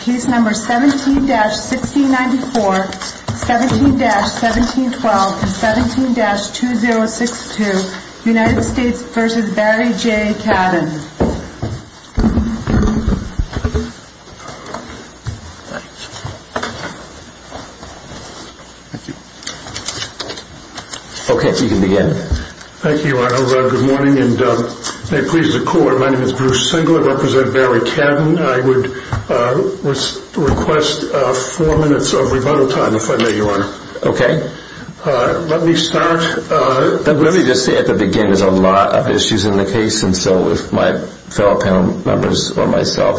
Case No. 17-1694, 17-1712, and 17-2062 United States v. Barry J. Cadden Okay, you can begin. Thank you, Arnold. Good morning, and may it please the Court, my name is Bruce Singlett, and I represent Barry Cadden. I would request four minutes of remote time, if I may, Your Honor. Okay. Let me start. Let me just say at the beginning, there's a lot of issues in the case, and so if my fellow panel members or myself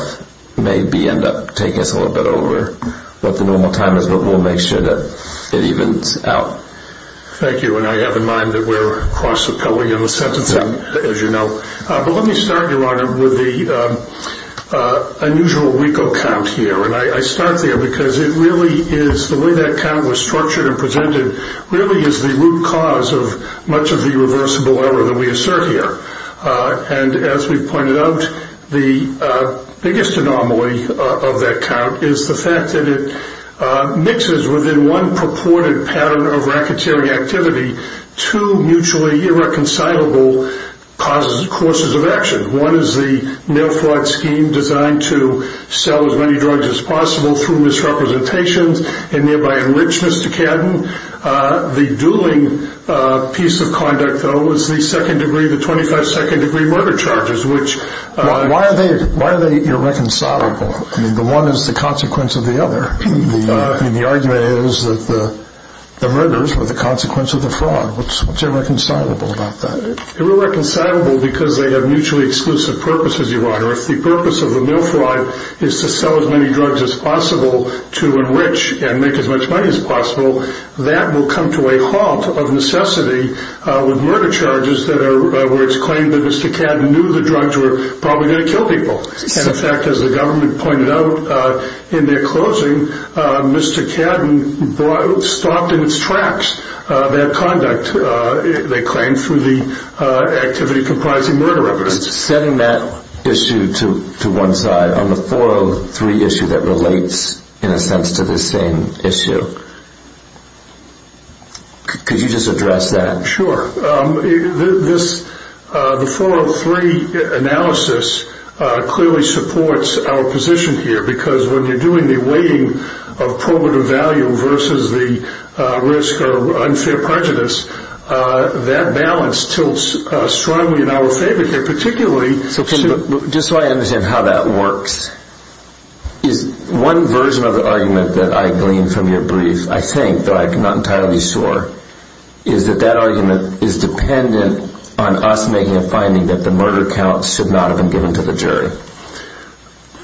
maybe end up taking us a little bit over what the normal time is, we'll make sure that it evens out. Thank you, and I have in mind that we're cross-appealing in the sentencing, as you know. But let me start, Your Honor, with the unusual legal count here, and I start there because it really is, the way that count was structured and presented, really is the root cause of much of the irreversible error that we assert here. And as we pointed out, the biggest anomaly of that count is the fact that it mixes within one purported pattern of racketeering activity two mutually irreconcilable causes and courses of action. One is the no fraud scheme designed to sell as many drugs as possible through misrepresentation and thereby enrich Mr. Cadden. The dueling piece of conduct, though, is the second degree, the 25 second degree murder charges, which are wildly irreconcilable. The one is the consequence of the other. The argument is that the murders are the consequence of the fraud. What's irreconcilable about that? Irreconcilable because they have mutually exclusive purposes, Your Honor. If the purpose of the no fraud is to sell as many drugs as possible to enrich and make as much money as possible, that will come to a halt of necessity with murder charges where it's claimed that Mr. Cadden knew the drugs were probably going to kill people. And, in fact, as the government pointed out in their closing, Mr. Cadden stopped in its tracks that conduct they claimed through the activity comprising murder of others. Setting that issue to one side, on the 403 issue that relates, in a sense, to the same issue, could you just address that? Sure. The 403 analysis clearly supports our position here because when we're doing the weighting of probative value versus the risk of unfair prejudice, that balance tilts strongly in our favor. Particularly... Just so I understand how that works. One version of the argument that I gleaned from your brief, I think, but I'm not entirely sure, is that that argument is dependent on us making a finding that the murder counts should not have been given to the jury.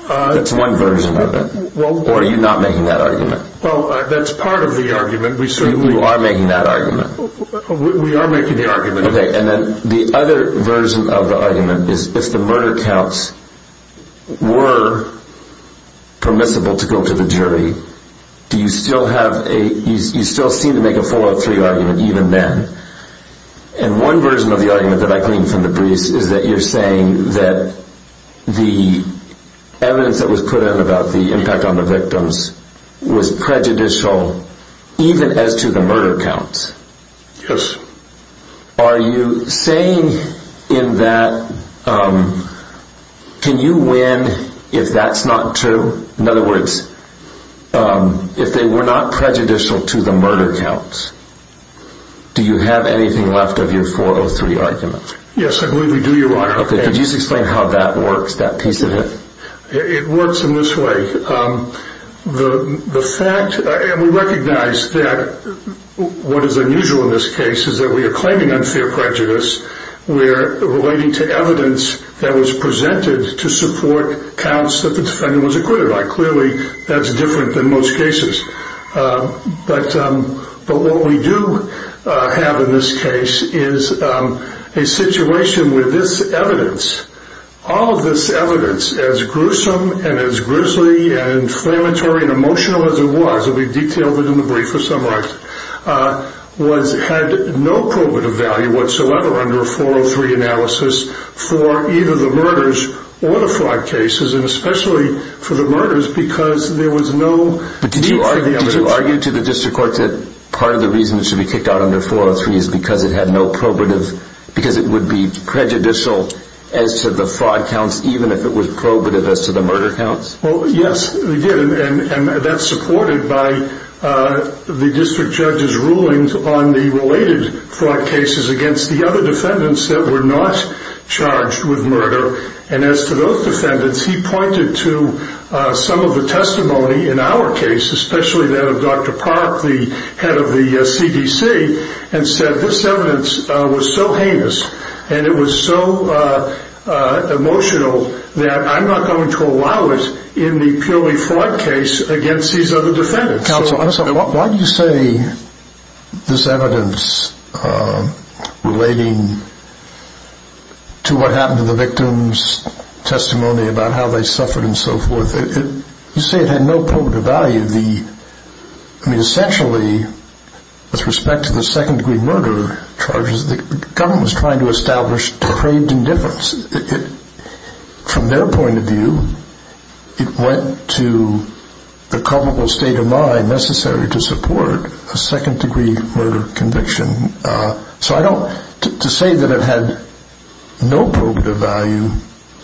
That's one version of it. Or are you not making that argument? Well, that's part of the argument. You are making that argument. We are making the argument. Okay. And then the other version of the argument is if the murder counts were permissible to make a 403 argument even then. And one version of the argument that I gleaned from the brief is that you're saying that the evidence that was put in about the impact on the victims was prejudicial even as to the murder counts. Yes. Are you saying in that, can you win if that's not true? In other words, if they were not prejudicial to the murder counts, do you have anything left of your 403 argument? Yes, I believe we do, Your Honor. Okay. Could you explain how that works, that piece of it? It works in this way. The fact, and we recognize that what is unusual in this case is that we are claiming unfair prejudice. We are relating to evidence that was presented to support counts that the defendant was acquitted by. Clearly, that's different than most cases. But what we do have in this case is a situation where this evidence, all of this evidence as gruesome and as grisly and inflammatory and emotional as it was, and we detailed it under 403 analysis for either the murders or the fraud cases, and especially for the murders because there was no... Did you argue to the district court that part of the reason it should be kicked out under 403 is because it had no probative, because it would be prejudicial as to the fraud counts, even if it was probative as to the murder counts? Yes, we did, and that's supported by the district judge's rulings on the related fraud cases against the other defendants that were not charged with murder. And as for those defendants, he pointed to some of the testimony in our case, especially that of Dr. Park, the head of the CDC, and said this evidence was so heinous and it was so emotional that I'm not going to allow it in the purely fraud case against these other defendants. So why do you say this evidence relating to what happened to the victims' testimony about how they suffered and so forth, you say it had no probative value. I mean, essentially, with respect to the second-degree murder charges, the government was trying to establish depraved indifference. From their point of view, it went to the culpable state of mind necessary to support a second-degree murder conviction. So to say that it had no probative value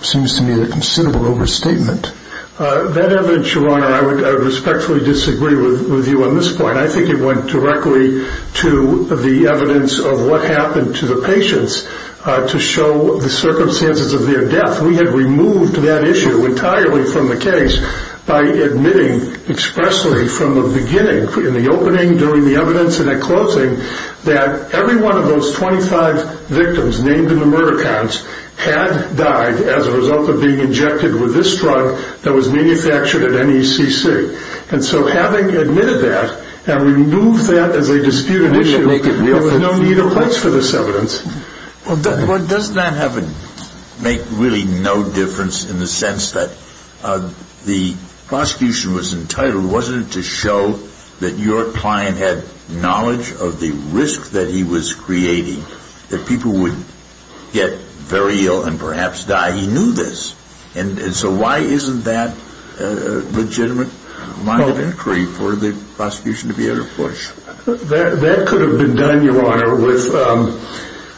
seems to me a considerable overstatement. That evidence, Your Honor, I respectfully disagree with you on this point. And I think it went directly to the evidence of what happened to the patients to show the circumstances of their death. We have removed that issue entirely from the case by admitting expressly from the beginning, in the opening, during the evidence and at closing, that every one of those 25 victims named in the murder counts had died as a result of being injected with this drug that was manufactured at NECC. And so having admitted that and removed that as a disputed issue, there was no need of place for this evidence. Well, doesn't that make really no difference in the sense that the prosecution was entitled, wasn't it, to show that your client had knowledge of the risk that he was creating, that people would get very ill and perhaps die? He knew this. And so why isn't that a legitimate line of inquiry for the prosecution to be able to push? That could have been done, Your Honor, with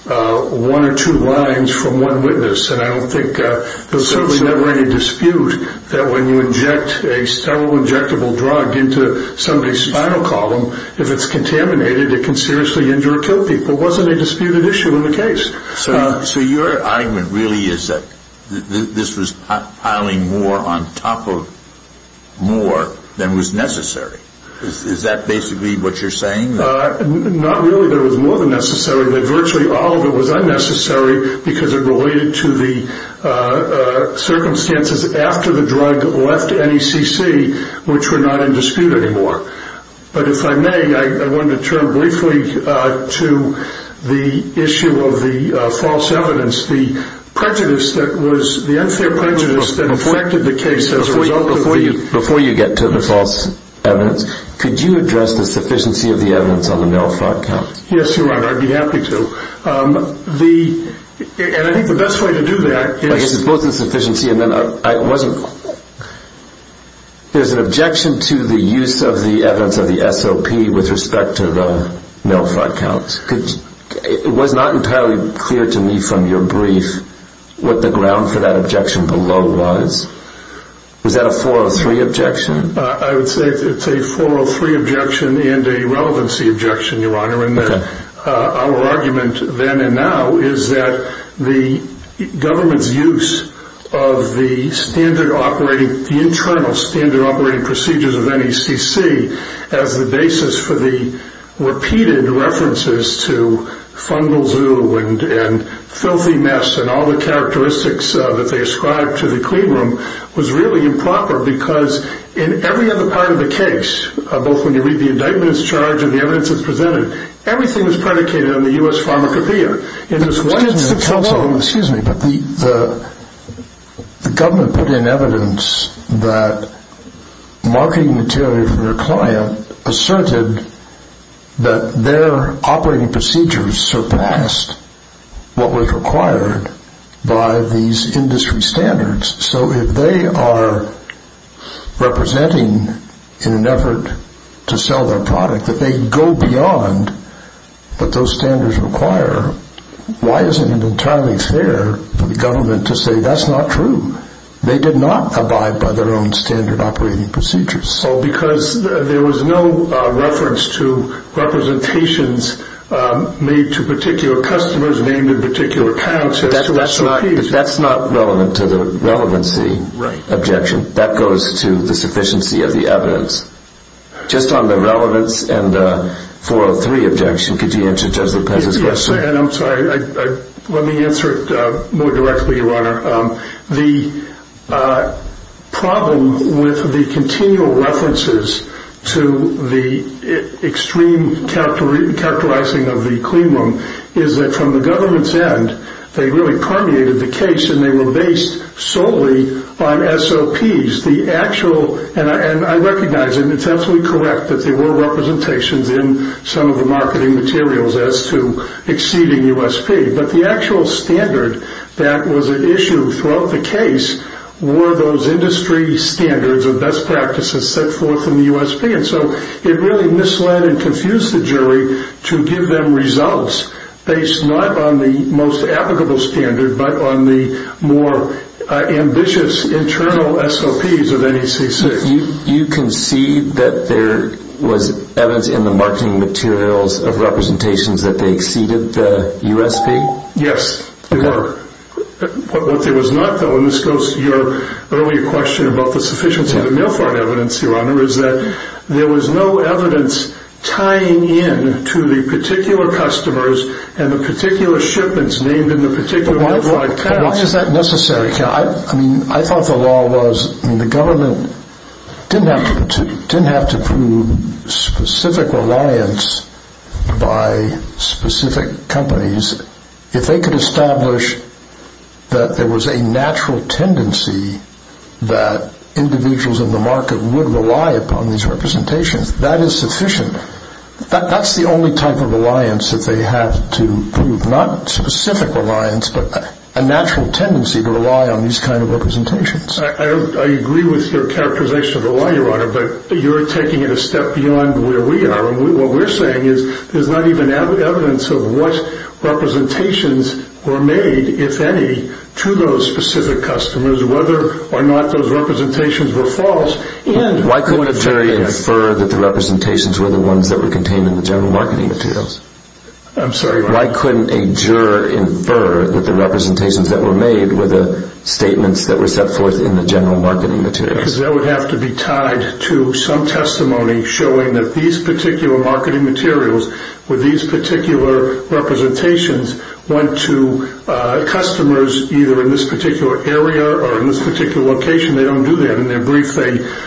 one or two lines from one witness. And I don't think there was ever any dispute that when you inject a several injectable drugs into somebody's spinal column, if it's contaminated, it can seriously injure two people. It wasn't a disputed issue in the case. So your argument really is that this was piling more on top of more than was necessary. Is that basically what you're saying? Not really. There was more than necessary, but virtually all of it was unnecessary because it related to the circumstances after the drug left NECC, which were not in dispute anymore. But if I may, I wanted to turn briefly to the issue of the false evidence, the prejudice that was, the unfair prejudice that inflected the case as a result of the use. Before you get to the false evidence, could you address the sufficiency of the evidence on the NELS.com? Yes, Your Honor, I'd be happy to. And I think the best way to do that is... with respect to the NELS.com. It was not entirely clear to me from your brief what the ground for that objection below was. Is that a 403 objection? I would say it's a 403 objection and a relevancy objection, Your Honor. And our argument then and now is that the government's use of the standard operating, the internal standard operating procedures of NECC as the basis for the repeated references to fungal zoo and filthy mess and all the characteristics that they ascribed to the clean room was really improper because in every other part of the case, both when you read the indictment it's charged and the evidence it's presented, everything is predicated on the U.S. pharmacopeia. Excuse me, but the government put in evidence that marketing material from their client asserted that their operating procedures surpassed what was required by these industry standards. So if they are representing in an effort to sell their product, that they go beyond what was required, why isn't it entirely fair for the government to say that's not true? They did not abide by their own standard operating procedures. Well, because there was no reference to representations made to particular customers, named in particular counts. That's not relevant to the relevancy objection. That goes to the sufficiency of the evidence. Just on the relevance and the 403 objection, could you answer just because it's necessary? I'm sorry. Let me answer it more directly, Your Honor. The problem with the continual references to the extreme capitalizing of the clean room is that from the government's end, they really permeated the case and they were based solely on SOPs. The actual, and I recognize I'm intentionally correct that there were representations in some of the marketing materials as to exceeding USP, but the actual standard that was issued throughout the case were those industry standards of best practices set forth in the USP. And so it really misled and confused the jury to give them results based not on the most applicable standard, but on the more ambitious internal SOPs of NECC. Do you concede that there was evidence in the marketing materials of representations that they exceeded the USP? Yes, Your Honor. What there was not, though, and this goes to your earlier question about the sufficiency of the mail-forward evidence, Your Honor, is that there was no evidence tying in to the particular customers and the particular shipments named in the particular worldwide counts. Why is that necessary? I thought the law was, the government didn't have to prove specific reliance by specific companies. If they could establish that there was a natural tendency that individuals in the market would rely upon these representations, that is sufficient. That's the only type of reliance that they had to prove. Not specific reliance, but a natural tendency to rely on these kinds of representations. I agree with your characterization of the law, Your Honor, but you're taking it a step beyond where we are. And what we're saying is there's not even evidence of what representations were made, if any, to those specific customers, whether or not those representations were false. And why couldn't a jury infer that the representations were the ones that were contained in the general marketing materials? I'm sorry, Your Honor. Why couldn't a juror infer that the representations that were made were the statements that were set forth in the general marketing materials? Because that would have to be tied to some testimony showing that these particular marketing materials or these particular representations went to customers either in this particular area or in this particular location. They don't do that in their brief.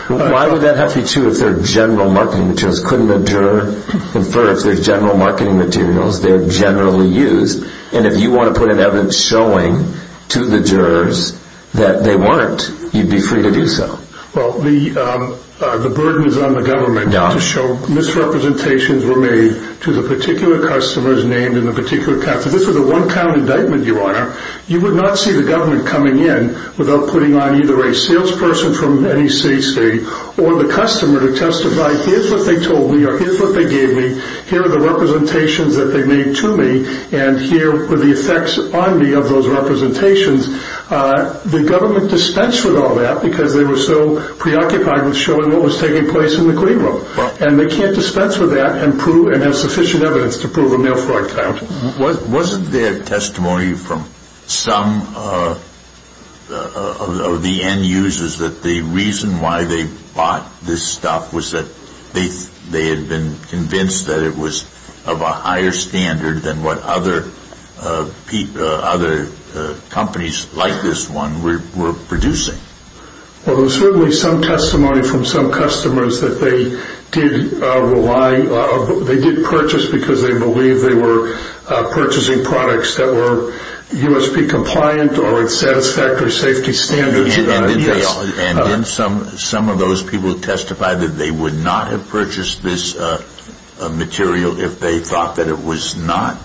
Why would that have to be true if they're general marketing materials? Why couldn't a juror infer that they're general marketing materials? They're generally used. And if you want to put an evidence showing to the jurors that they weren't, you'd be free to do so. Well, the burden is on the government to show misrepresentations were made to the particular customers named in the particular category. This is a one-time indictment, Your Honor. You would not see the government coming in without putting on either a salesperson from any state or the customer to testify, here's what they told me or here's what they gave me, here are the representations that they made to me, and here are the effects on me of those representations. The government dispensed with all that because they were so preoccupied with showing what was taking place in the green room. And they can't dispense with that and have sufficient evidence to prove enough right now. Wasn't there testimony from some of the end users that the reason why they bought this stuff was that they had been convinced that it was of a higher standard than what other companies like this one were producing? Well, there was certainly some testimony from some customers that they did purchase because they believed they were purchasing products that were USP compliant or satisfactory safety standards. And some of those people testified that they would not have purchased this material if they thought that it was not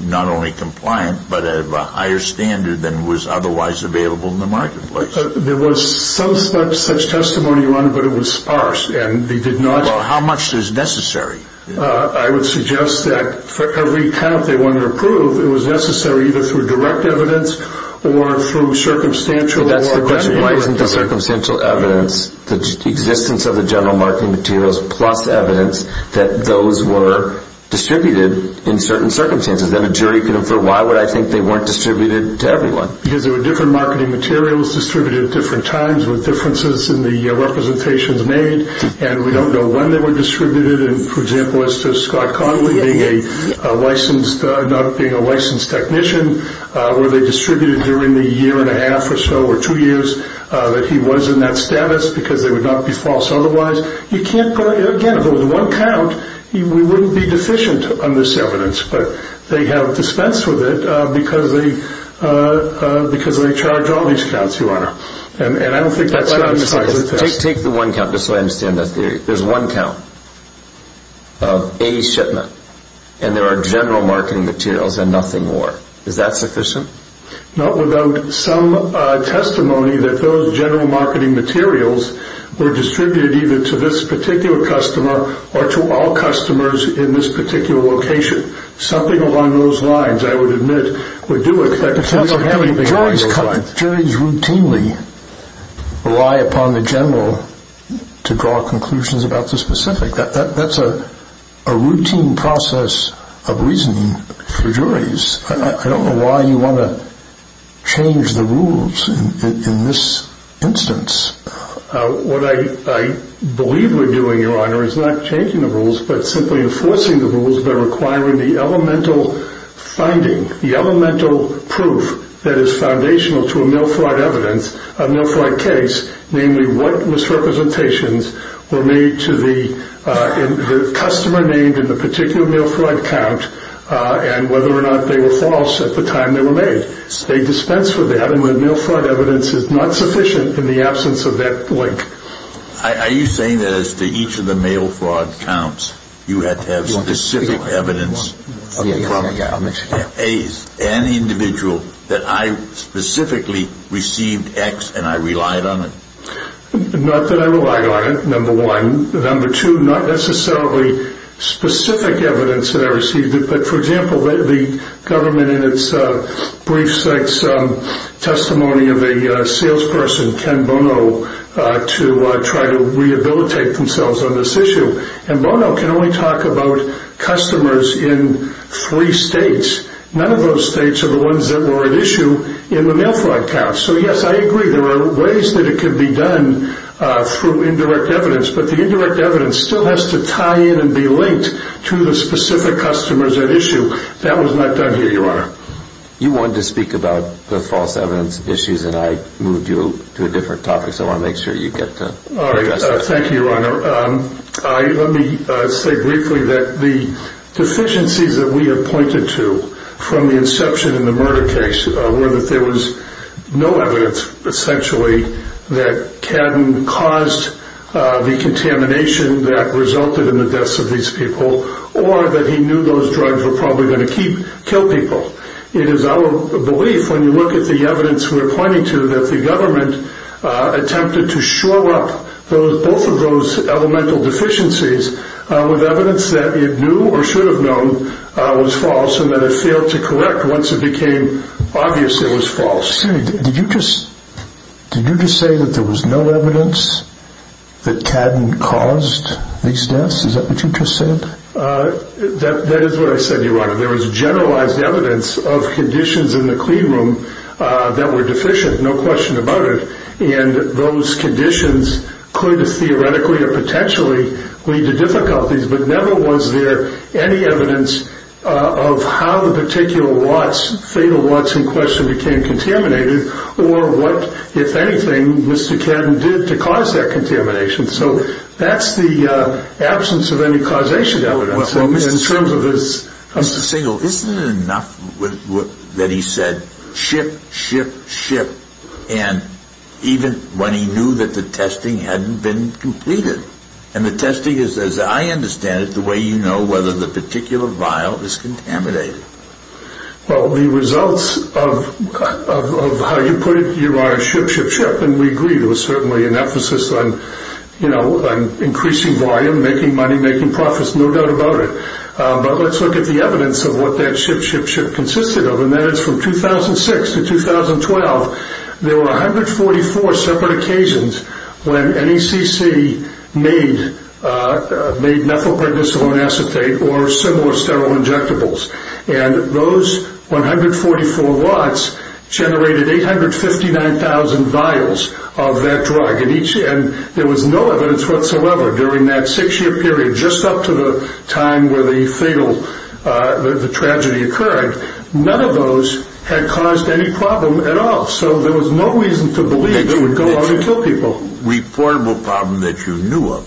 only compliant but of a higher standard than was otherwise available in the marketplace. There was so much such testimony, Your Honor, but it was sparse. How much is necessary? I would suggest that for every count they wanted to prove, it was necessary either through direct evidence or through circumstantial evidence. Well, that's the question. Why wouldn't it be circumstantial evidence? The existence of the general marketing materials plus evidence that those were distributed in certain circumstances. Then a jury could infer, why would I think they weren't distributed to everyone? Because there were different marketing materials distributed at different times with differences in the representations made. And we don't know when they were distributed. For example, Scott Connelly, being a licensed technician, were they distributed during the year and a half or so or two years that he was in that status because they would not be false otherwise. You can't go, again, with one count, you wouldn't be deficient on this evidence. But they have dispensed with it because they charge all these counts, Your Honor. And I don't think that's satisfied. Take the one count, just so I understand that. There's one count of A shipment and there are general marketing materials and nothing more. Is that sufficient? Not without some testimony that those general marketing materials were distributed either to this particular customer or to all customers in this particular location. Something along those lines, I would admit, would do it. Juries routinely rely upon the general to draw conclusions about the specific. That's a routine process of reasoning for juries. I don't know why you want to change the rules in this instance. What I believe we're doing, Your Honor, is not changing the rules, but simply enforcing the rules that are requiring the elemental finding, the elemental proof that is foundational to a mail fraud evidence, a mail fraud case, namely what misrepresentations were made to the customer named in the particular mail fraud count and whether or not they were false at the time they were made. They dispense with that and the mail fraud evidence is not sufficient in the absence of that link. Are you saying that as to each of the mail fraud counts, you have to have specific evidence from an individual that I specifically received X and I relied on it? Not that I relied on it, number one. Number two, not necessarily specific evidence that I received, but for example, the government brief site's testimony of a salesperson, Ken Bono, to try to rehabilitate themselves on this issue. And Bono can only talk about customers in three states. None of those states are the ones that were at issue in the mail fraud count. So yes, I agree, there are ways that it could be done through indirect evidence, but the indirect evidence still has to tie in and be linked to the specific customers at issue. That was not done here, Your Honor. You wanted to speak about the false evidence issues and I moved you to a different topic, so I want to make sure you get to it. Thank you, Your Honor. Let me say briefly that the deficiencies that we have pointed to from the inception in the murder case were that there was no evidence, essentially, that Caden caused the contamination that resulted in the deaths of these people or that he knew those drugs were probably going to kill people. It is our belief, when you look at the evidence we are pointing to, that the government attempted to shore up both of those elemental deficiencies with evidence that it knew or should have known was false and that it failed to correct once it became obvious it was false. Excuse me, did you just say that there was no evidence that Caden caused these deaths? Is that what you just said? That is what I said, Your Honor. There was generalized evidence of conditions in the cleanroom that were deficient, no question about it, and those conditions could theoretically or potentially lead to difficulties, but never was there any evidence of how the particular warts, fatal warts in question, became contaminated or what, if anything, Mr. Caden did to cause that contamination, so that is the absence of any causation evidence in terms of his... Mr. Singel, isn't it enough that he said, ship, ship, ship, and even when he knew that the testing hadn't been completed? And the testing, as I understand it, is the way you know whether the particular vial is contaminated. Well, the results of how you put it, Your Honor, ship, ship, ship, and we agree it was certainly an emphasis on increasing volume, making money, making profits, no doubt about it, but let's look at the evidence of what that ship, ship, ship consisted of, and that was when NECC made methylprednisone acetate or similar sterile injectables, and those 144 warts generated 859,000 vials of that drug, and there was no evidence whatsoever during that six-year period, just up to the time where the fatal tragedy occurred, none of those had caused any problem at all, so there was no reason to believe it would go to people. Reportable problem that you knew of.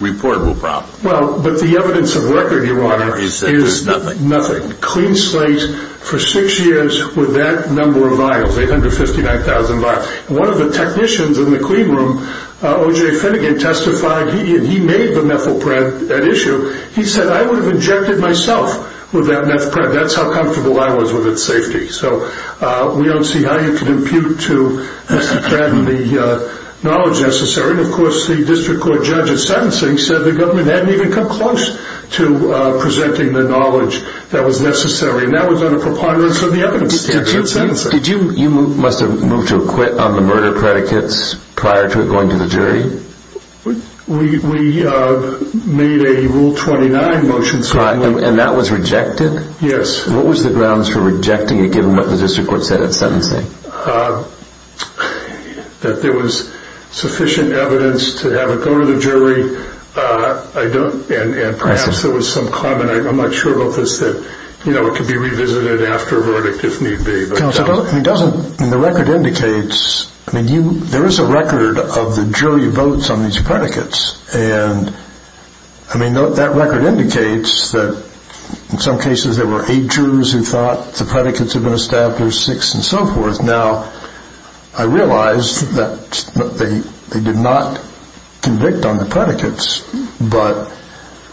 Reportable problem. Well, but the evidence of record, Your Honor, is nothing. Nothing. Clean sites for six years with that number of vials, 859,000 vials, and one of the technicians in the clean room, O.J. Finnegan, testified, he made the methylpred, that issue, he said I would have injected myself with that methylpred, that's how comfortable I was with its safety, so we don't see how you can impute to the knowledge necessary. Of course, the district court judge at sentencing said the government hadn't even come close to presenting the knowledge that was necessary, and that was on a compliance of the evidence. Did you, you must have moved to quit on the murder predicates prior to going to the jury? We made a Rule 29 motion. And that was rejected? Yes. What was the grounds for rejecting it given what the district court said at sentencing? That there was sufficient evidence to have it go to the jury, and perhaps there was some comment, I'm not sure about this, that it could be revisited after a verdict if need be. The record indicates, there is a record of the jury votes on these predicates, and that record indicates that in some cases there were eight jurors who thought the predicates were most apt, there were six and so forth. Now, I realize that they did not convict on the predicates, but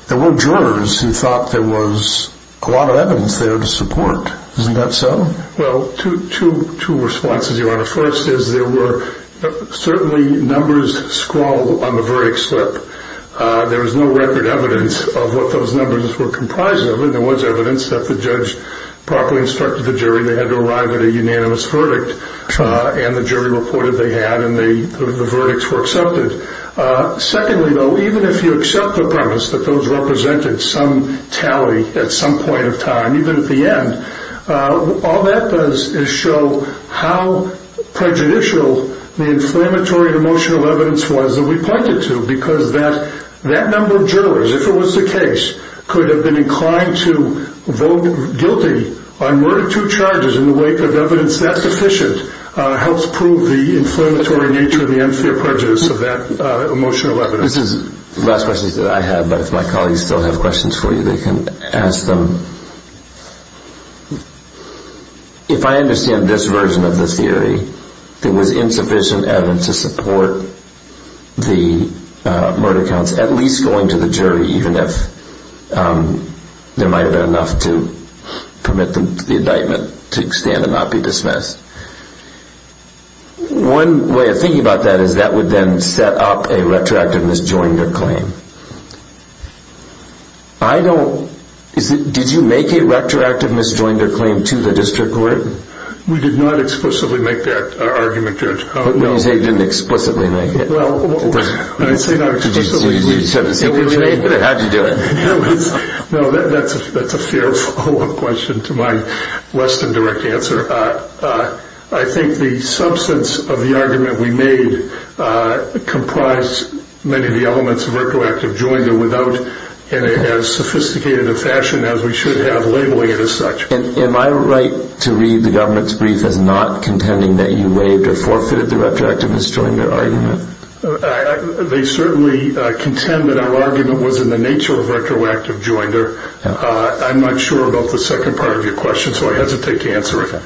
there were jurors who thought there was a lot of evidence there to support. Isn't that so? Well, two responses, Your Honor. First is there were certainly numbers scroll on the verdict slip. There was no record evidence of what those numbers were comprised of. And there was evidence that the judge properly instructed the jury they had to arrive at a unanimous verdict. And the jury reported they had, and the verdicts were accepted. Secondly, though, even if you accept the premise that those represented some tally at some point in time, even at the end, all that does is show how prejudicial the inflammatory emotional evidence was that we pointed to, because that number of jurors, if it was the case, could have been inclined to vote guilty on one or two charges in the wake of evidence that sufficient helps prove the inflammatory nature and the unfair prejudice of that emotional evidence. This is the last question that I have, but if my colleagues still have questions for you, they can ask them. If I understand this version of the theory, there was insufficient evidence to support the murder counts at least going to the jury, even if there might have been enough to permit the indictment to extend and not be dismissed. One way of thinking about that is that would then set up a retroactive misdemeanor claim. Did you make a retroactive misdemeanor claim to the district court? We did not explicitly make that argument, Judge. What do you mean you didn't explicitly make it? Well, I didn't explicitly make it. Well, that's a fair follow-up question to my less than direct answer. I think the substance of the argument we made comprised many of the elements of retroactive joinder without as sophisticated a fashion as we should have labeling it as such. Am I right to read the government's brief and not contend that you waived or forfeited the retroactive misdemeanor argument? They certainly contend that our argument was in the nature of retroactive joinder. I'm not sure about the second part of your question, so I hesitate to answer it.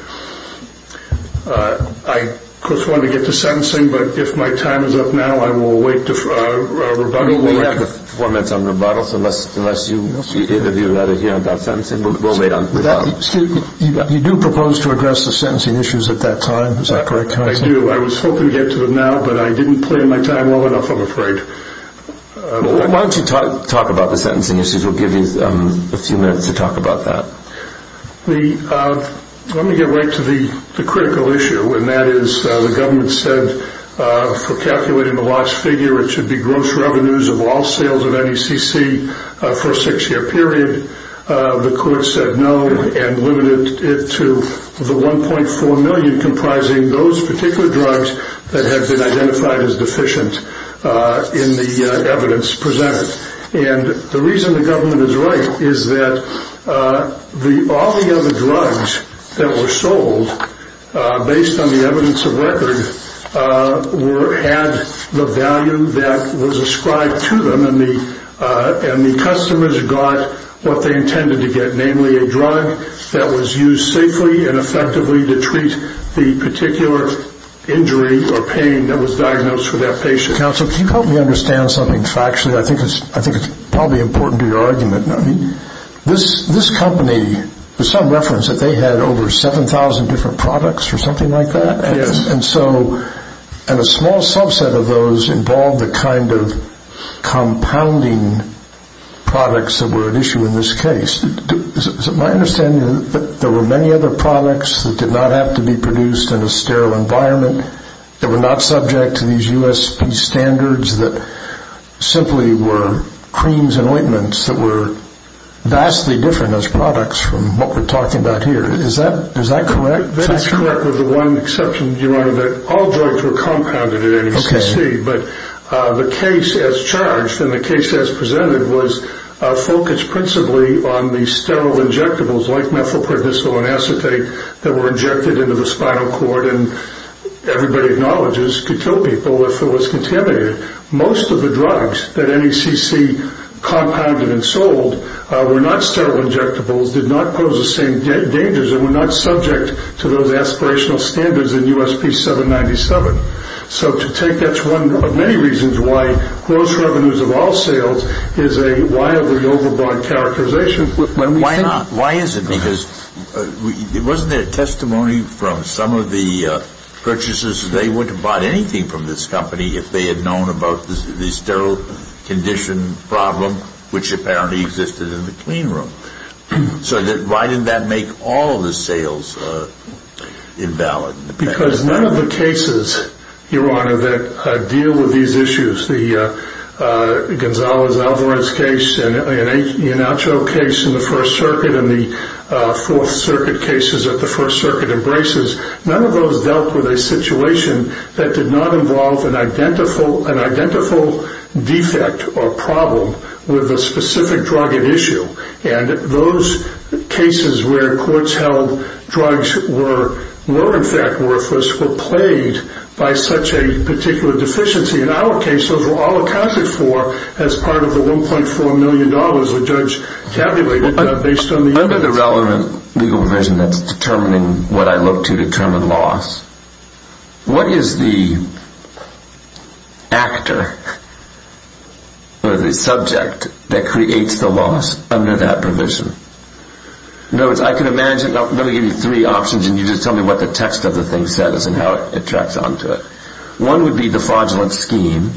I, of course, wanted to get to sentencing, but if my time is up now, I will wait for a rebuttal. We'll wait for a four-minute rebuttal unless you interview another hearing about sentencing. You do propose to address the sentencing issues at that time. Is that correct? I do. I was hoping to get to them now, but I didn't plan my time well enough, I'm afraid. Why don't you talk about the sentencing issues? We'll give you a few minutes to talk about that. Let me get right to the critical issue, and that is the government said for calculating the lost figure it should be gross revenues of all sales of NECC per six-year period. The court said no and limited it to the $1.4 million comprising those particular drugs that have been identified as deficient in the evidence presented. The reason the government is right is that all the other drugs that were sold based on the evidence of record had the value that was ascribed to them, and the customers got what they intended to get, namely a drug that was used safely and effectively to treat the particular injury or pain that was diagnosed for that patient. Counsel, can you help me understand something factually? I think it's probably important to your argument. This company, there's some reference that they had over 7,000 different products or something like that, and a small subset of those involved the kind of compounding products that were at issue in this case. My understanding is that there were many other products that did not have to be produced in a sterile environment, that were not subject to these USP standards, that simply were creams and ointments that were vastly different as products from what we're talking about here. Is that correct? That's correct with the one exception, Your Honor, that all drugs were compounded in NECC, but the case as charged and the case as presented was focused principally on the sterile injectables like methylprednisol and acetate that were injected into the spinal cord, and everybody acknowledges to kill people if it was contaminated. Most of the drugs that NECC compounded and sold were not sterile injectables, did not pose the same dangers, and were not subject to those aspirational standards in USP 797. So to take that to one of many reasons why gross revenues of all sales is a wildly overbought characterization. But why not? Why is it? Because wasn't there testimony from some of the purchasers, they wouldn't have bought anything from this company if they had known about the sterile condition problem, which apparently existed in the clean room. So why didn't that make all the sales invalid? Because none of the cases, Your Honor, that deal with these issues, the Gonzales-Alvarez case, and the Inacio case in the First Circuit, and the Fourth Circuit cases that the First Circuit embraces, none of those dealt with a situation that did not involve an identical defect or problem with a specific drug at issue. And those cases where courts held drugs were in fact worthless were plagued by such a particular deficiency. In our case, those were all accounted for as part of the $1.4 million the judge tabulated based on the evidence. I've got a relevant legal provision that's determining what I look to determine loss. What is the actor or the subject that creates the loss under that provision? In other words, I can imagine, let me give you three options and you just tell me what the text of the thing says and how it tracks on to it. One would be the fraudulent scheme.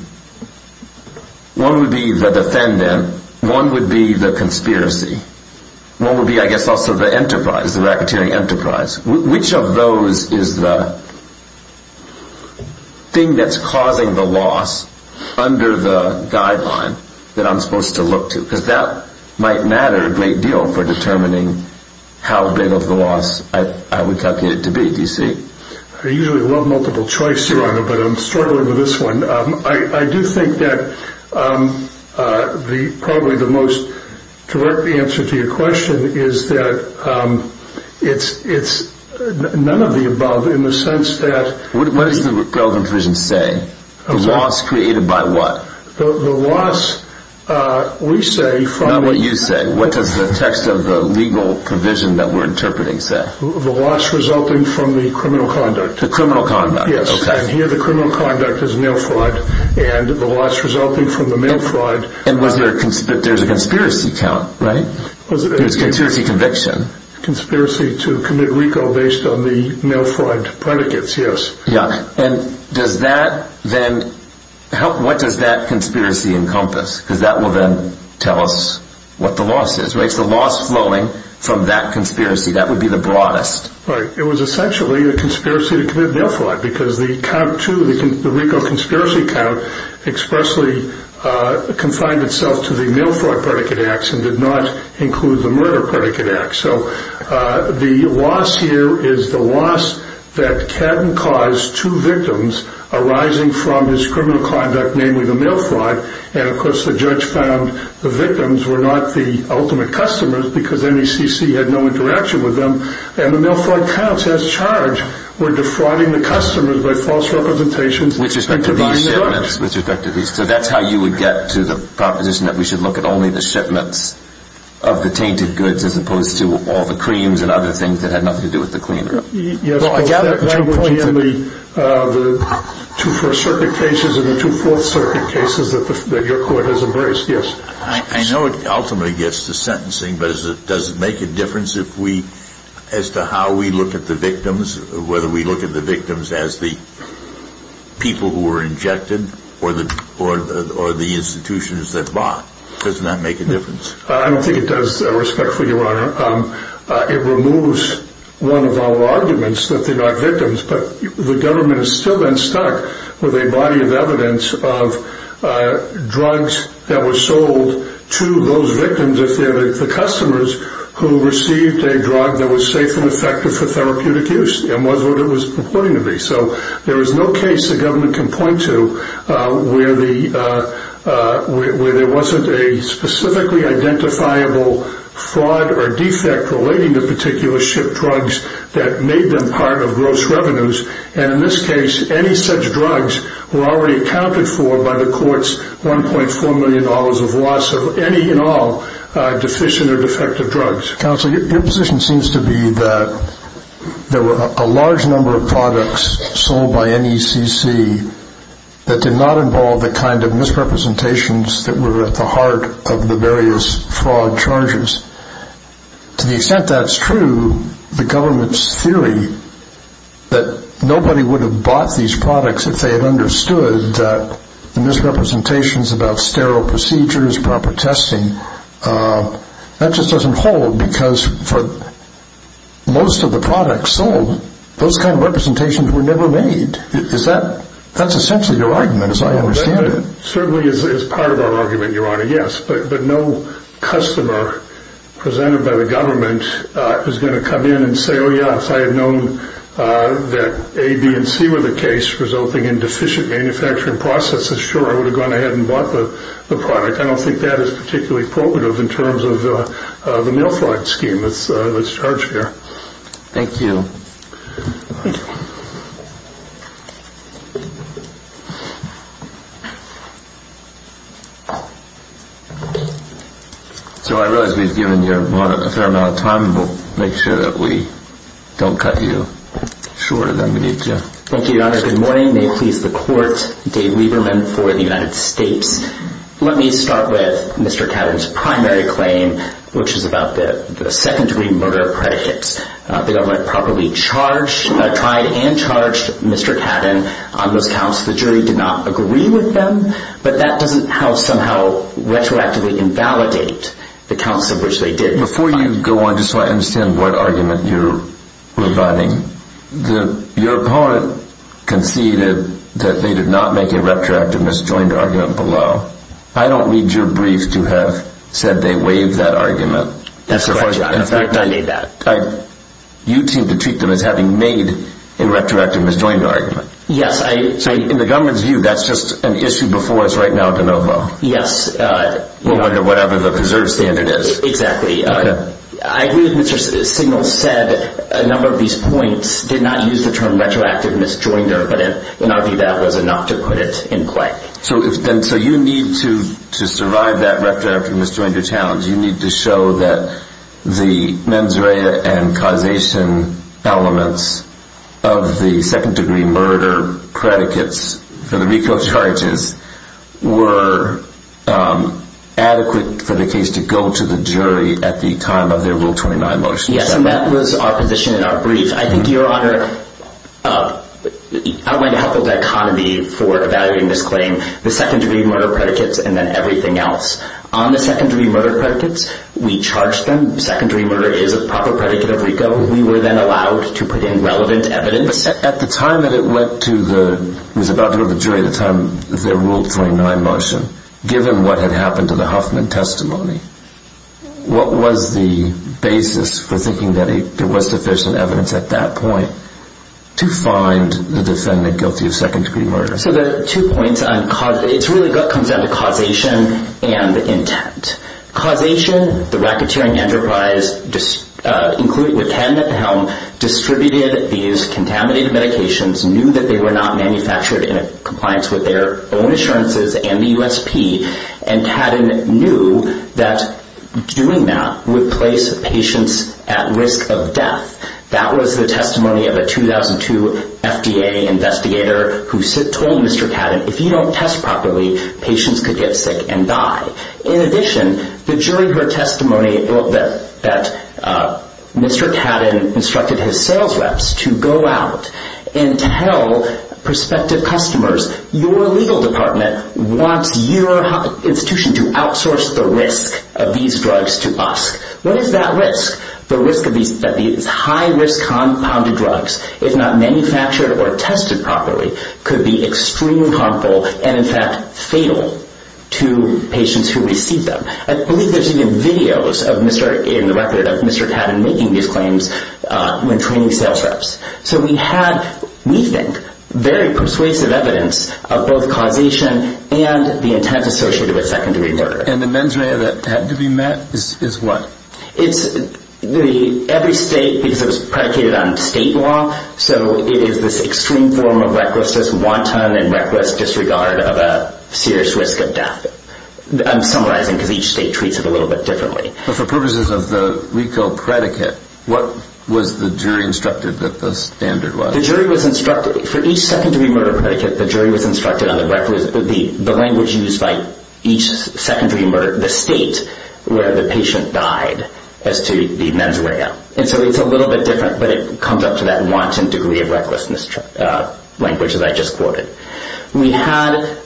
One would be the defendant. One would be the conspiracy. One would be, I guess, also the enterprise, the racketeering enterprise. Which of those is the thing that's causing the loss under the guideline that I'm supposed to look to? Because that might matter a great deal for determining how big of a loss I would calculate it to be, do you see? I usually run multiple choices on it, but I'm struggling with this one. I do think that probably the most correct answer to your question is that it's none of the above in the sense that... What does the relevant provision say? The loss created by what? The loss, we say... Not what you say, what does the text of the legal provision that we're interpreting say? The loss resulting from the criminal conduct. The criminal conduct, okay. And here the criminal conduct is male fraud and the loss resulting from the male fraud... And there's a conspiracy count, right? Conspiracy conviction. Conspiracy to commit recall based on the male fraud predicates, yes. Yeah. And does that then... What does that conspiracy encompass? Because that will then tell us what the loss is, right? The loss flowing from that conspiracy, that would be the broadest. Right. It was essentially a conspiracy to commit male fraud because the recount too, the recall conspiracy count expressly confined itself to the male fraud predicate acts and did not include the murder predicate acts. So the loss here is the loss that cabin caused two victims arising from this criminal conduct namely the male fraud, and of course the judge found the victims were not the ultimate customers because NECC had no interaction with them. And the male fraud counts as charged were defrauding the customers by false representations which effectively said... Which effectively said, but that's how you would get to the proposition that we should look at only the shipment of the tainted goods as opposed to all the creams and other things that had nothing to do with the cream. Yes. So I gather at one point in the two first circuit cases and the two fourth circuit cases that your court has averse, yes. I know it ultimately gets to sentencing but does it make a difference as to how we look at the victims, whether we look at the victims as the people who were injected or the institutions that bought? Doesn't that make a difference? I don't think it does respectfully your honor. It removes one of our arguments that they are victims but the government has still been there with a body of evidence of drugs that were sold to those victims of the customers who received a drug that was safe and effective for therapeutic use and was what it was purporting to be. So there is no case the government can point to where there wasn't a specifically identifiable fraud or defect relating to particular shipped drugs that made them part of gross revenues and in this case any such drugs were already accounted for by the courts 1.4 million dollars of loss of any and all deficient or defective drugs. Counselor, your position seems to be that there were a large number of products sold by NECC that did not involve the kind of misrepresentations that were at the heart of the various fraud charges. To the extent that's true, the government's theory that nobody would have bought these products if they had understood that misrepresentations about sterile procedures, proper testing, that just doesn't hold because most of the products sold, those kind of representations were never made. That's essentially your argument as I understand it. Certainly as part of our argument, your honor, yes, but no customer presented by the government is going to come in and say, oh yes, I had known that A, B, and C were the case resulting in deficient manufacturing processes. Sure, I would have gone ahead and bought the product. I don't think that is particularly qualitative in terms of the more fraud scheme that's charged here. Thank you. So I realize we've given you a fair amount of time. We'll make sure that we don't cut you shorter than we need to. Thank you, your honor. Good morning. May it please the court, Dave Lieberman for the United States. Let me start with Mr. Cadden's primary claim, which is about the second degree murder of credit. Yes, the jury did not agree with them, but that doesn't help somehow retroactively invalidate the counts of which they did. Before you go on, just so I understand what argument you're refining, your part conceded that they did not make a retroactive misjoined argument below. I don't need your brief to have said they waived that argument. That's correct, your honor. I made that. You seem to treat them as having made a retroactive misjoined argument. Yes. So in the government's view, that's just an issue before us right now with ANOVA. Yes. Whatever the preserved standard is. Exactly. I believe Mr. Signal said a number of these points did not use the term retroactive misjoined argument, and I think that was enough to put it in place. So you need to survive that retroactive misjoined challenge. You need to show that the mens rea and causation elements of the second degree murder predicates for the recall charges were adequate for the case to go to the jury at the time of their rule 29 motion. Yes, and that was our position in our brief. I think your honor, I want to have the dichotomy for evaluating this claim, the second degree murder predicates and then everything else. On the second degree murder predicates, we charged them. The second degree murder is a proper predicate of recall. We were then allowed to put in relevant evidence. At the time that it went to the governor of the jury at the time of their rule 29 motion, given what had happened to the Huffman testimony, what was the basis for thinking that it was sufficient evidence at that point to find the defendant guilty of second degree murder? So there are two points. It really comes down to causation and intent. Causation, the racketeering enterprise, including the patent at the helm, distributed these contaminated medications, knew that they were not manufactured in compliance with their own assurances and the USP, and Patent knew that doing that would place patients at risk of death. That was the testimony of a 2002 FDA investigator who told Mr. Cadden, if you don't test properly, patients could get sick and die. In addition, the jury heard testimony that Mr. Cadden instructed his sales reps to go out and tell prospective customers, your legal department wants your institution to outsource the risk of these drugs to us. What is that risk? The risk that these high-risk compounded drugs, if not manufactured or tested properly, could be extremely harmful and, in fact, fatal to patients who receive them. I believe there's even videos in the record of Mr. Cadden making these claims when training sales reps. So we had, we think, very persuasive evidence of both causation and the intent associated with second degree murder. And the mens rea that had to be met is what? Every state, because it was predicated on state law, so it is this extreme form of recklessness, wanton and reckless disregard of a serious risk of death. I'm summarizing because each state treats it a little bit differently. But for purposes of the legal predicate, what was the jury instructed that the standard was? The jury was instructed, for each secondary murder predicate, the jury was instructed on the language used by each secondary murder, the state where the patient died, as to the mens rea. And so it's a little bit different, but it comes up to that wanton degree of recklessness language that I just quoted. We had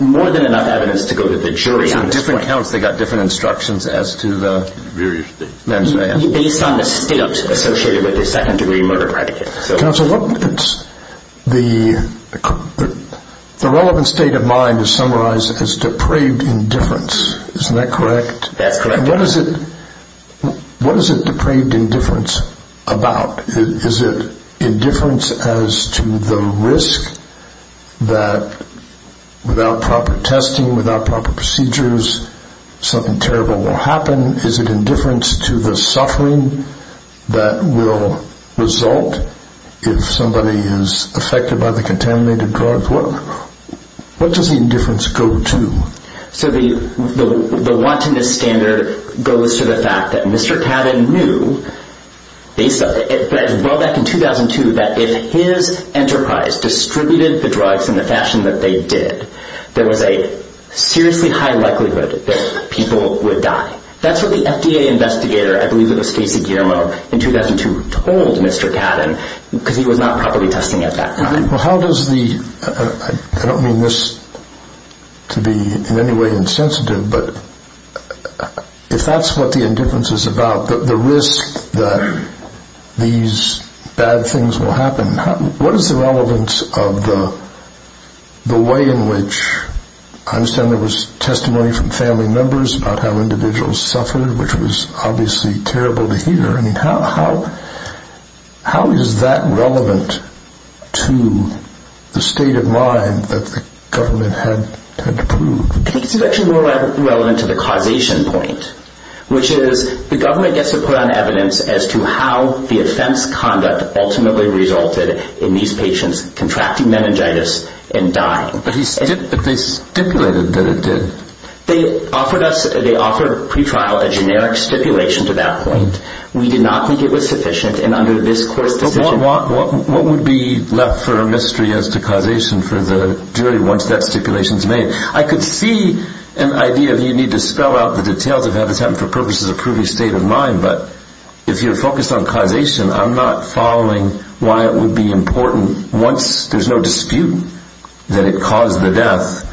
more than enough evidence to go to the jury. On different counts, they got different instructions as to the degree of mens rea. Based on the state associated with the secondary murder predicate. Counsel, the relevant state of mind is summarized as depraved indifference. Isn't that correct? That's correct. And what is it depraved indifference about? Is it indifference as to the risk that without proper testing, without proper procedures, something terrible will happen? Is it indifference to the suffering that will result if somebody is affected by the contaminated drugs? What does indifference go to? So the wantonness standard goes to the fact that Mr. Cadden knew, well back in 2002, that if his enterprise distributed the drugs in the fashion that they did, there was a seriously high likelihood that people would die. That's what the FDA investigator, I believe it was Casey Guillermo, in 2002 told Mr. Cadden because he was not properly testing at that time. Well how does the, I don't mean this to be in any way insensitive, but if that's what the indifference is about, the risk that these bad things will happen, what is the relevance of the way in which, I understand there was testimony from family members about how individuals suffered, which was obviously terrible behavior. I mean how is that relevant to the state of mind that the government had to prove? I think it's actually more relevant to the causation point, which is the government gets to put on evidence as to how the offense conduct ultimately resulted in these patients contracting meningitis and dying. But he said that they stipulated that it did. They offered us, they offered pre-trial a generic stipulation to that point. We did not think it was sufficient, and under this court's decision... But what would be left for a mystery as to causation for the jury once that stipulation is made? I could see an idea that you need to spell out the details of Habitat for Purpose as a prudish state of mind, but if you're focused on causation, I'm not following why it would be important once there's no dispute that it caused the death,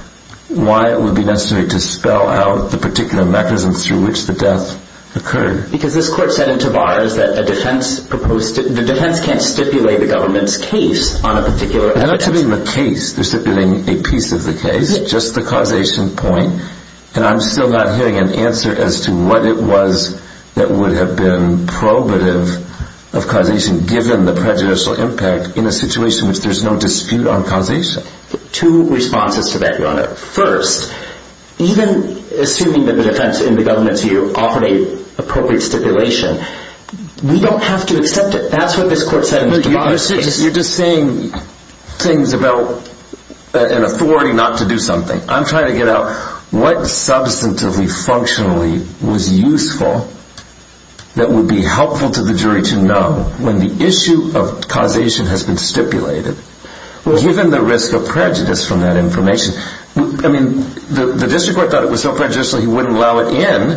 why it would be necessary to spell out the particular mechanism through which the death occurred. Because this court said in Tabar that the defense can't stipulate the government's case on a particular offense. They're not stipulating the case. They're stipulating a piece of the case, just the causation point. And I'm still not hearing an answer as to what it was that would have been probative of causation given the prejudicial impact in a situation where there's no dispute on causation. Two responses to that, Your Honor. First, even assuming that the defense in the government's view offered an appropriate stipulation, we don't have to accept it. That's what this court said. You're just saying things about an authority not to do something. I'm trying to get out what substantively, functionally was useful that would be helpful to the jury to know when the issue of causation has been stipulated. Given the risk of prejudice from that information, the district court thought it was so prejudicial he wouldn't allow it in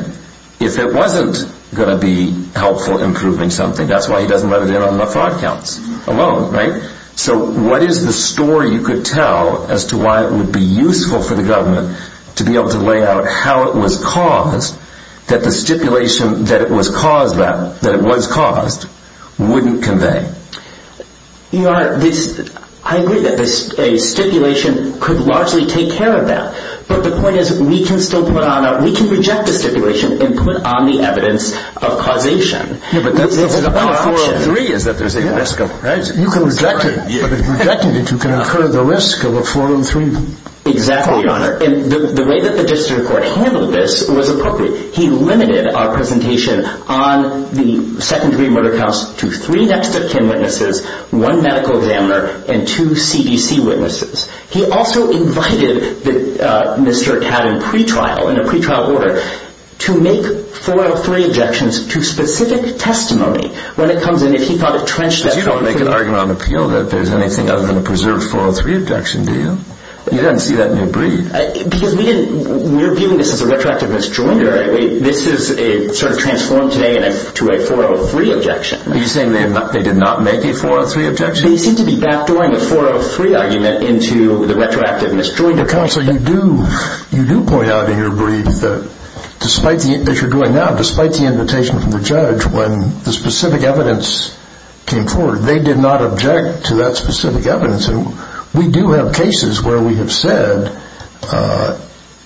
if it wasn't going to be helpful in proving something. That's why he doesn't let it in on the fraud counts alone, right? So what is the story you could tell as to why it would be useful for the government to be able to lay out how it was caused that the stipulation that it was caused wouldn't convey? Your Honor, I agree that a stipulation could largely take care of that. But the point is we can reject the stipulation and put on the evidence of causation. You can reject it. If it's rejected, you can incur the risk of a 4-in-3. Exactly, Your Honor. And the way that the district court handled this was appropriate. He limited our presentation on the second degree murder counts to three expert witnesses, one medical examiner, and two CDC witnesses. He also invited Mr. Catton pretrial, in a pretrial order, to make 4-in-3 objections to specific testimony. You don't make an argument on the field that there's anything other than a preserved 4-in-3 objection, do you? You didn't see that in your brief. Because we're viewing this as a retroactive misdemeanor. This is sort of transformed today into a 4-in-3 objection. Are you saying they did not make a 4-in-3 objection? They seem to be backdooring the 4-in-3 argument into the retroactive misdemeanor. You do point out in your brief that, despite the invitation from the judge, when the specific evidence came forward, they did not object to that specific evidence. We do have cases where we have said,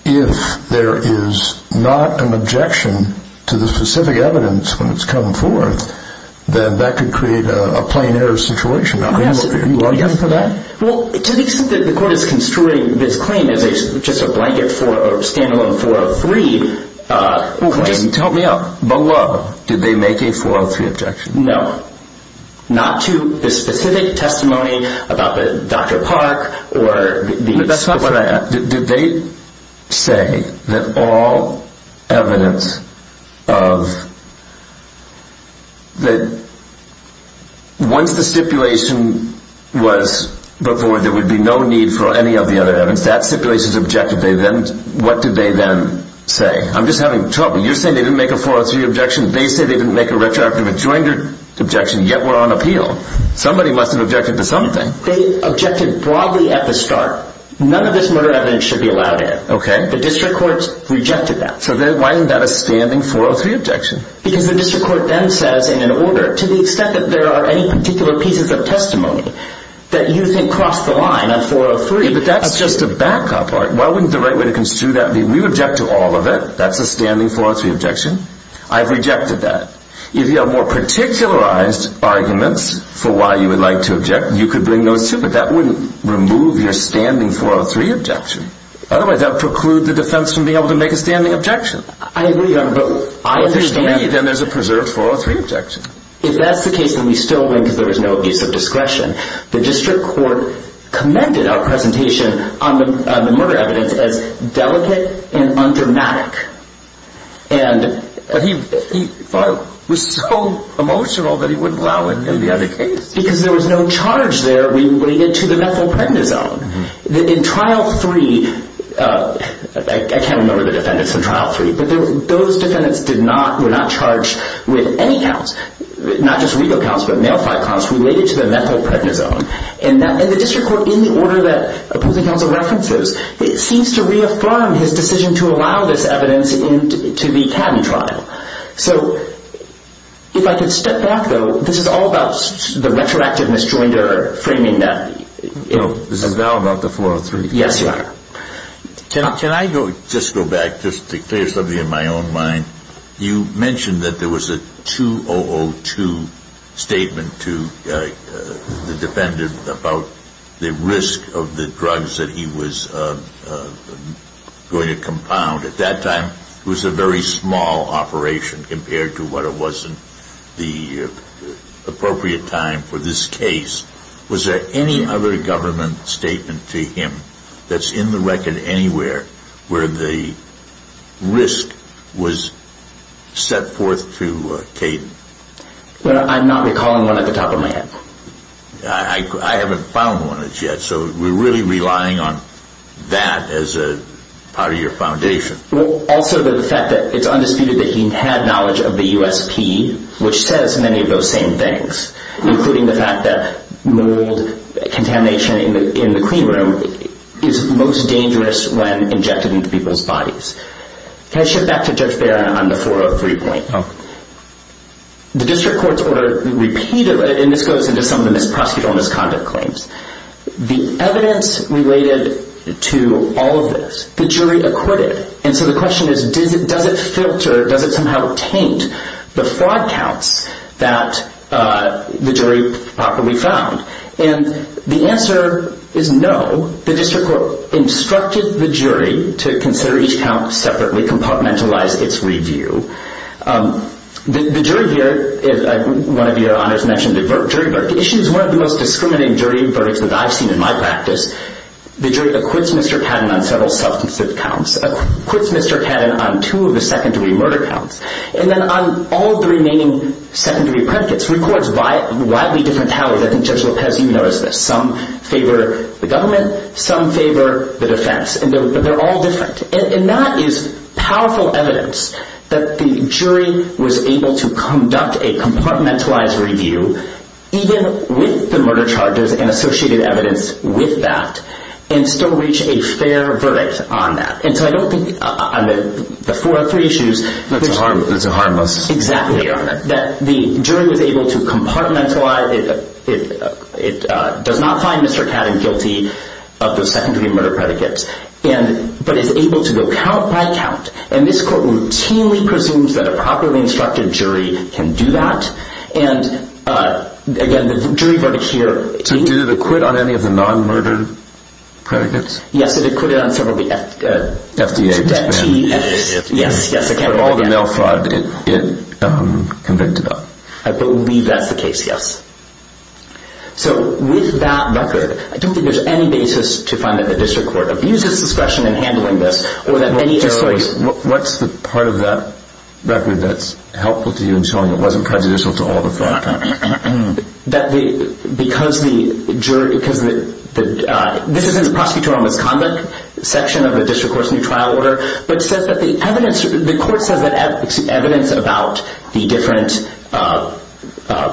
if there is not an objection to the specific evidence when it's come forth, then that could create a plain error situation. Do you argue for that? To the extent that the court is construing this claim as just a standalone 4-in-3 claim, tell me, below, did they make a 4-in-3 objection? No. Not to the specific testimony about Dr. Park? That's not what I asked. Did they say that all evidence of... Once the stipulation was put forward, there would be no need for any of the other evidence. That stipulation is objective. What did they then say? I'm just having trouble. You're saying they didn't make a 4-in-3 objection. They say they didn't make a retroactive misdemeanor objection, yet we're on appeal. Somebody must have objected to something. They objected broadly at the start. None of this murder evidence should be allowed in. Okay. The district courts rejected that. Why isn't that a standing 4-in-3 objection? Because the district court then says, in order, to the extent that there are any particular pieces of testimony that you can cross the line on 4-in-3... But that's just a backup argument. Why wouldn't the right way to construe that be we object to all of it? That's a standing 4-in-3 objection. I've rejected that. If you have more particularized arguments for why you would like to object, you could bring those, too. But that wouldn't remove your standing 4-in-3 objection. Otherwise, that would preclude the defense from being able to make a standing objection. I agree, Your Honor. But I understand that there's a preserved 4-in-3 objection. If that's the case, then we still believe there is no district discretion. The district court commended our presentation on the murder evidence as delicate and undramatic. And he was so emotional that he wouldn't allow it to be on the case. Because there was no charge there related to the mental pregnancy. In Trial 3, I can't remember the defendants in Trial 3, but those defendants were not charged with any counts. Not just legal counts, but male-file counts related to the mental pregnancy. And the district court, in the order that opposing counsel references, seems to reaffirm his decision to allow this evidence to be tabbed in trial. So, if I could step back, though, this is all about the retroactive misdemeanor framing that. So, this is now about the 4-in-3? Yes, Your Honor. Can I just go back, just to clear something in my own mind? You mentioned that there was a 2002 statement to the defendant about the risk of the drugs that he was going to compound. At that time, it was a very small operation compared to what it was in the appropriate time for this case. Was there any other government statement to him that's in the record anywhere where the risk was set forth to Tatum? I'm not recalling one off the top of my head. I haven't found one as yet, so we're really relying on that as part of your foundation. Also, the fact that it's undisputed that he had knowledge of the USP, which says many of those same things, including the fact that mold contamination in the clean room is most dangerous when injected into people's bodies. Can I shift back to Judge Barron on the 403 point? Okay. The district courts over a repeat of it, and this goes into some of the presbyter's conduct claims, the evidence related to all of this, the jury acquitted it. And so the question is, does it filter, does it somehow taint the fraud counts that the jury properly found? And the answer is no. The district court instructed the jury to consider each count separately, compartmentalize its review. The jury here, as one of your honors mentioned, the jury verdict issue is one of the most discriminating jury verdicts that I've seen in my practice. The jury acquits Mr. Cannon on several substantive counts, acquits Mr. Cannon on two of the secondary murder counts, and then on all of the remaining secondary apprentices. Three courts have a wildly different tally. I think Judge Lopez, you noticed this. Some favor the government, some favor the defense, and they're all different. And that is powerful evidence that the jury was able to conduct a compartmentalized review, even with the murder charges and associated evidence with that, and still reach a fair verdict on that. And so I don't think on the four or three issues that the jury was able to compartmentalize. It does not find Mr. Cannon guilty of the secondary murder predicates. But it's able to go count by count, and this court routinely presumes that a properly instructed jury can do that. And, again, the jury verdict here- So did it acquit on any of the non-murdered predicates? Yes, it acquitted on several of the FDA- FDA predicates. Yes, yes. But all of the male products it convicted on. I believe that's the case, yes. So with that record, I don't think there's any basis to find that the district court abused its discretion in handling this. What's the part of that record that's helpful to you in showing it wasn't prejudicial to all the five counts? Because the jury- This is in the prosecutorial misconduct section of the district court's new trial order, but it says that the evidence- the court says it has evidence about the different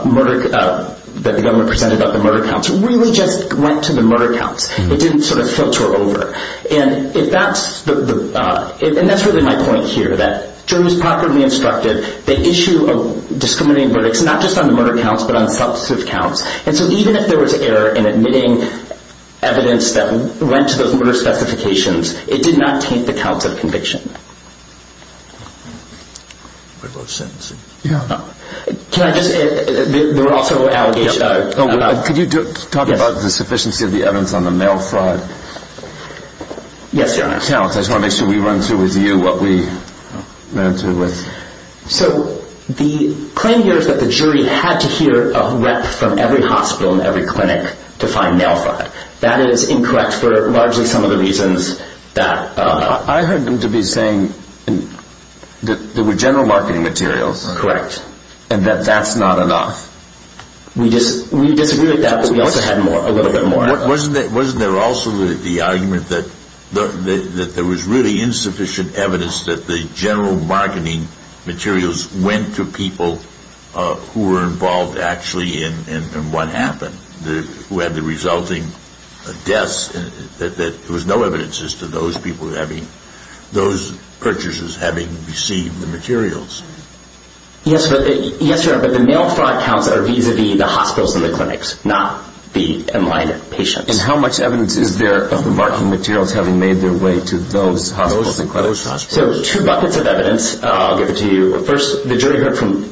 murder- that the government presented about the murder counts. It really just went to the murder counts. It didn't sort of filter over. And if that's the- And that's really my point here, that jury's properly instructed. The issue of discriminating verdicts, not just on the murder counts, but on the prosecutive counts. And so even if there was error in admitting evidence that went to those murder specifications, it did not take the counts of conviction. I love sentencing. Yeah. Can I just- They're also- Could you talk about the sufficiency of the evidence on the male side? Yes, Your Honor. I just want to make sure we run through with you what we ran through with. So the claim here is that the jury had to hear of reps from every hospital and every clinic to find males on it. That is incorrect for largely some of the reasons that- I heard them to be saying that there were general marketing materials. Correct. And that that's not enough. We disagree with that, but we also had a little bit more. Wasn't there also the argument that there was really insufficient evidence that the general marketing materials went to people who were involved actually in what happened, who had the resulting deaths, and that there was no evidence as to those purchases having received the materials? Yes, Your Honor. But the male fraud counts are vis-à-vis the hospitals and the clinics, not the in-line patients. And how much evidence is there of the marketing materials having made their way to those hospitals and clinics? So two buckets of evidence. I'll give it to you. First, the jury heard from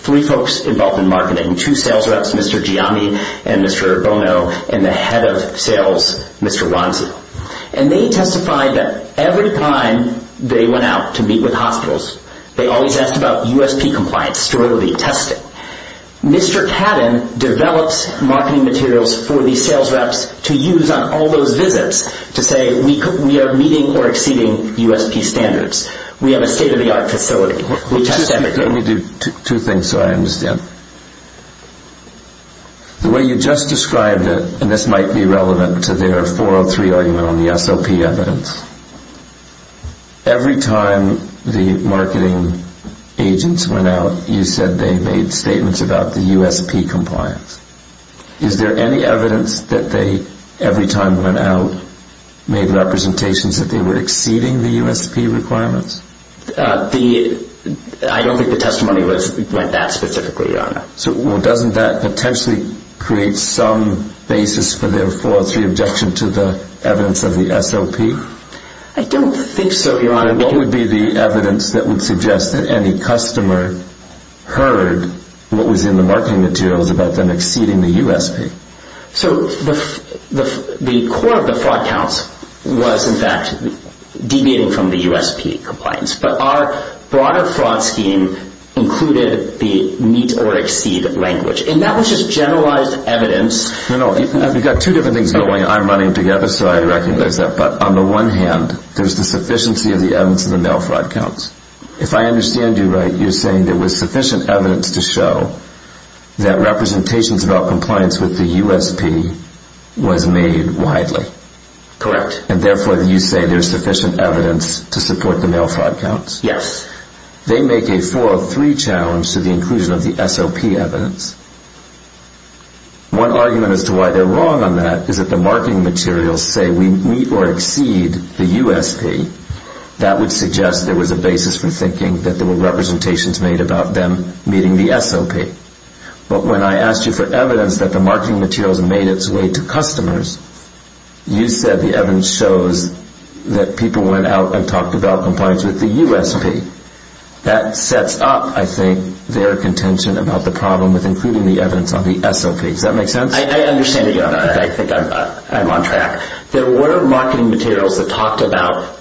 three folks involved in marketing, two sales reps, Mr. Gianni and Mr. Bono, and the head of sales, Mr. Wanzi. And they testified that every time they went out to meet with hospitals, they always asked about USP compliance, sterility, testing. Mr. Padden developed marketing materials for these sales reps to use on all those visits to say we are meeting or exceeding USP standards. We have a state-of-the-art facility. Let me do two things so I understand. The way you just described it, and this might be relevant to their 403 argument on the SOP evidence, every time the marketing agents went out, you said they made statements about the USP compliance. Is there any evidence that they, every time they went out, made representations that they were exceeding the USP requirements? I don't think the testimony went that specifically on it. Well, doesn't that potentially create some basis for their 403 objection to the evidence of the SOP? I don't think so, Your Honor. What would be the evidence that would suggest that any customer heard what was in the marketing materials about them exceeding the USP? So the core of the fraud house was, in fact, deviating from the USP compliance. But our broader fraud scheme included the meet or exceed language. And that was just generalized evidence. You know, you've got two different things going. I'm running together, so I recognize that. But on the one hand, there's the sufficiency of the evidence in the Nail Fraud Counts. If I understand you right, you're saying there was sufficient evidence to show that representations about compliance with the USP was made widely. Correct. And therefore, you say there's sufficient evidence to support the Nail Fraud Counts? Yes. They make a 403 challenge to the inclusion of the SOP evidence. One argument as to why they're wrong on that is that the marketing materials say we meet or exceed the USP. That would suggest there was a basis for thinking that there were representations made about them meeting the SOP. But when I asked you for evidence that the marketing materials made its way to customers, you said the evidence shows that people went out and talked about compliance with the USP. That sets up, I think, their contention about the problem with including the evidence on the SOP. Does that make sense? I understand you. I think I'm on track. There were marketing materials that talked about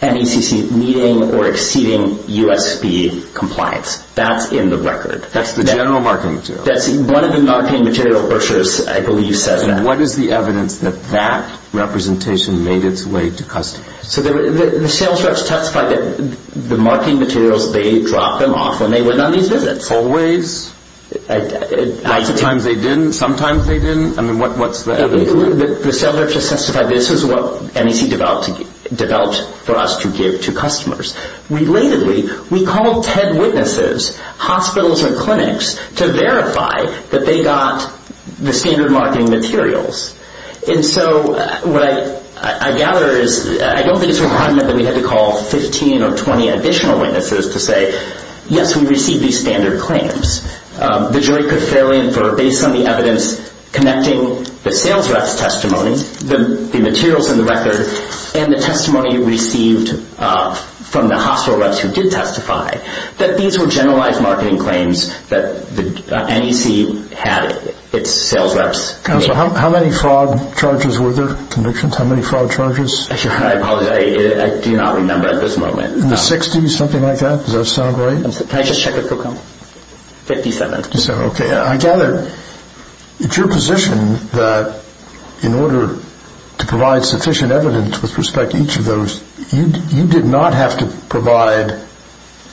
NECC meeting or exceeding USP compliance. That's in the record. That's the general marketing material? One of the marketing material brochures, I believe, says that. What is the evidence that that representation made its way to customers? The sales reps testified that the marketing materials, they dropped them off and they went on these visits. Always? Sometimes they didn't. Sometimes they didn't. I mean, what's the evidence? The sales reps just testified this is what NECC developed for us to give to customers. Relatedly, we called 10 witnesses, hospitals and clinics, to verify that they got the standard marketing materials. And so what I gather is I don't think it's a requirement that we have to call 15 or 20 additional witnesses to say, yes, we received these standard claims. The jury could fail in for, based on the evidence, connecting the sales reps' testimony, the materials in the record, and the testimony received from the hospital reps who did testify, that these were generalized marketing claims that NECC had its sales reps. Counselor, how many fraud charges were there, convictions? How many fraud charges? I apologize. I do not remember at this moment. Sixty-something like that? Does that sound right? Can I just check with Procom? Fifty-seven. Fifty-seven. Okay. I gather it's your position that in order to provide sufficient evidence with respect to each of those, you did not have to provide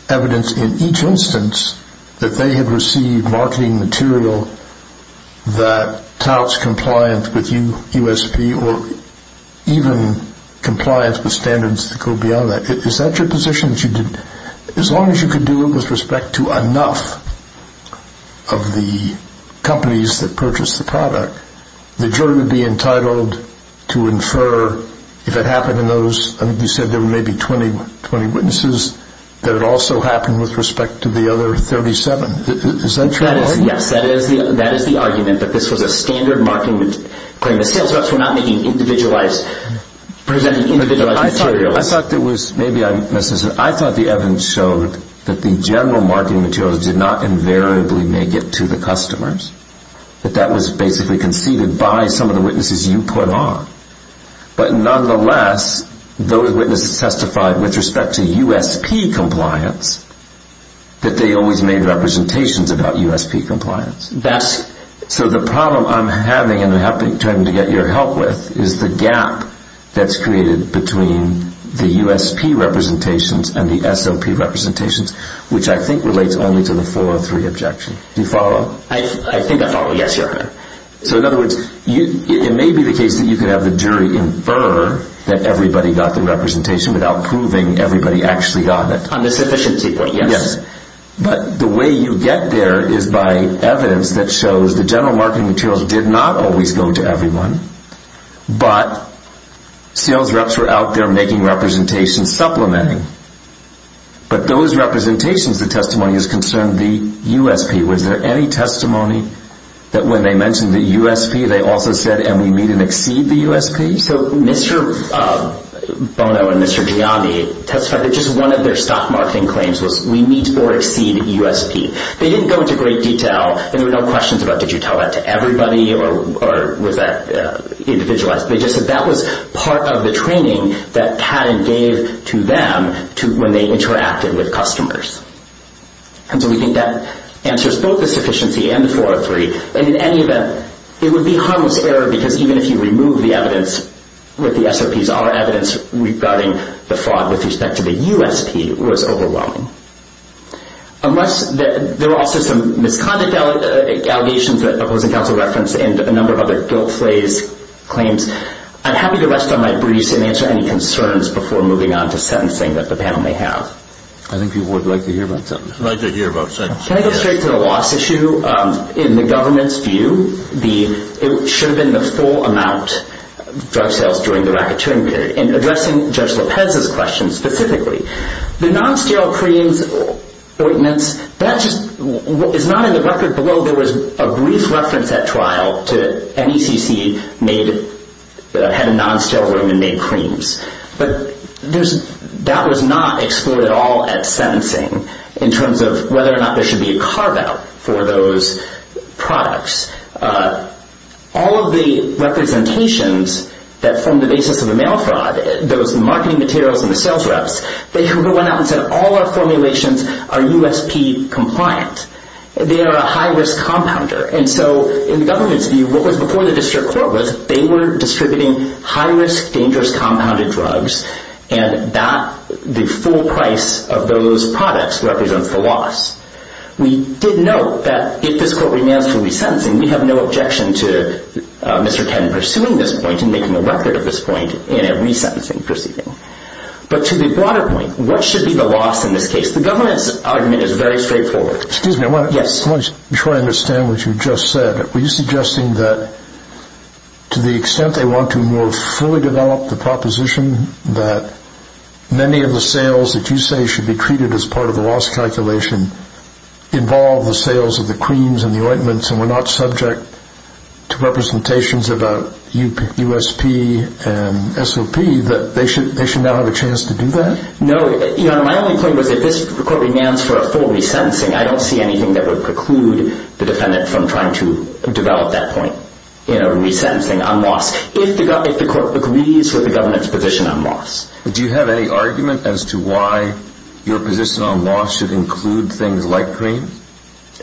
evidence in each instance that they had received marketing material that touts compliance with USP or even compliance with standards that go beyond that. Is that your position? As long as you could do it with respect to enough of the companies that purchased the product, the jury would be entitled to infer if it happened in those, you said there were maybe 20 witnesses, that it also happened with respect to the other 37. Is that true? Yes. That is the argument that this was a standard marketing claim. The sales reps were not presenting individualized material. I thought the evidence showed that the general marketing material did not invariably make it to the customers, that that was basically conceded by some of the witnesses you put on. But nonetheless, those witnesses testified with respect to USP compliance that they always made representations about USP compliance. So the problem I'm having, and I'm trying to get your help with, is the gap that's created between the USP representations and the SLP representations, which I think relates only to the 403 objection. Do you follow? I think I follow, yes, Your Honor. So in other words, it may be the case that you could have the jury infer that everybody got the representation without proving everybody actually got it. On the sufficiency point, yes. But the way you get there is by evidence that shows the general marketing materials did not always go to everyone, but sales reps were out there making representations, supplementing. But those representations, the testimony is concerned, the USP. Was there any testimony that when they mentioned the USP, they also said, and we need to exceed the USP? So Mr. Bono and Mr. Giambi testified that just one of their stock marketing claims was, we need to exceed the USP. They didn't go into great detail. There were no questions about did you tell that to everybody or was that individualized. They just said that was part of the training that CADA gave to them when they interacted with customers. And so we think that answers both the sufficiency and the 403. In any event, it would be harmless error because even if you remove the evidence, what the SOPs are evidence regarding the fraud with respect to the USP was overwhelming. Unless there are also some misconduct allegations that have been referenced and a number of other guilt-placed claims, I'm happy to rest on my briefs and answer any concerns before moving on to sentencing that the panel may have. I think people would like to hear about sentencing. I'd like to hear about sentencing. Can I get straight to the loss issue? In the government's view, it should have been the full amount of drug sales during the racketeering period. And addressing Judge Lopez's question specifically, the non-sterile creams, ointments, that is not in the record below. There was a brief reference at trial to NECC had a non-sterile room and made creams. But that was not excluded at all at sentencing in terms of whether or not there should be a carve-out for those products. All of the representations that formed the basis of the mail fraud, those marketing materials and the sales drafts, they should have gone out and said all our formulations are USP compliant. They are a high-risk compounder. And so in government's view, what was before the district court was they were distributing high-risk dangerous compounded drugs and the full price of those products represents the loss. We did note that if this court remains to be sentencing, we have no objection to Mr. Penn pursuing this point and making a record of this point in a resentencing proceeding. But to the broader point, what should be the loss in this case? The government's argument is very straightforward. Excuse me. Yes. I want to try to understand what you just said. Were you suggesting that to the extent they want to more fully develop the proposition that many of the sales that you say should be treated as part of the loss calculation involve the sales of the creams and the ointments and were not subject to representations about USP and SOP, that they should now have a chance to do that? No. My only point was if this court remains for a full resentencing, I don't see anything that would preclude the defendant from trying to develop that point in a resentencing on loss. If the court agrees with the government's position on loss. Do you have any argument as to why your position on loss should include things like cream?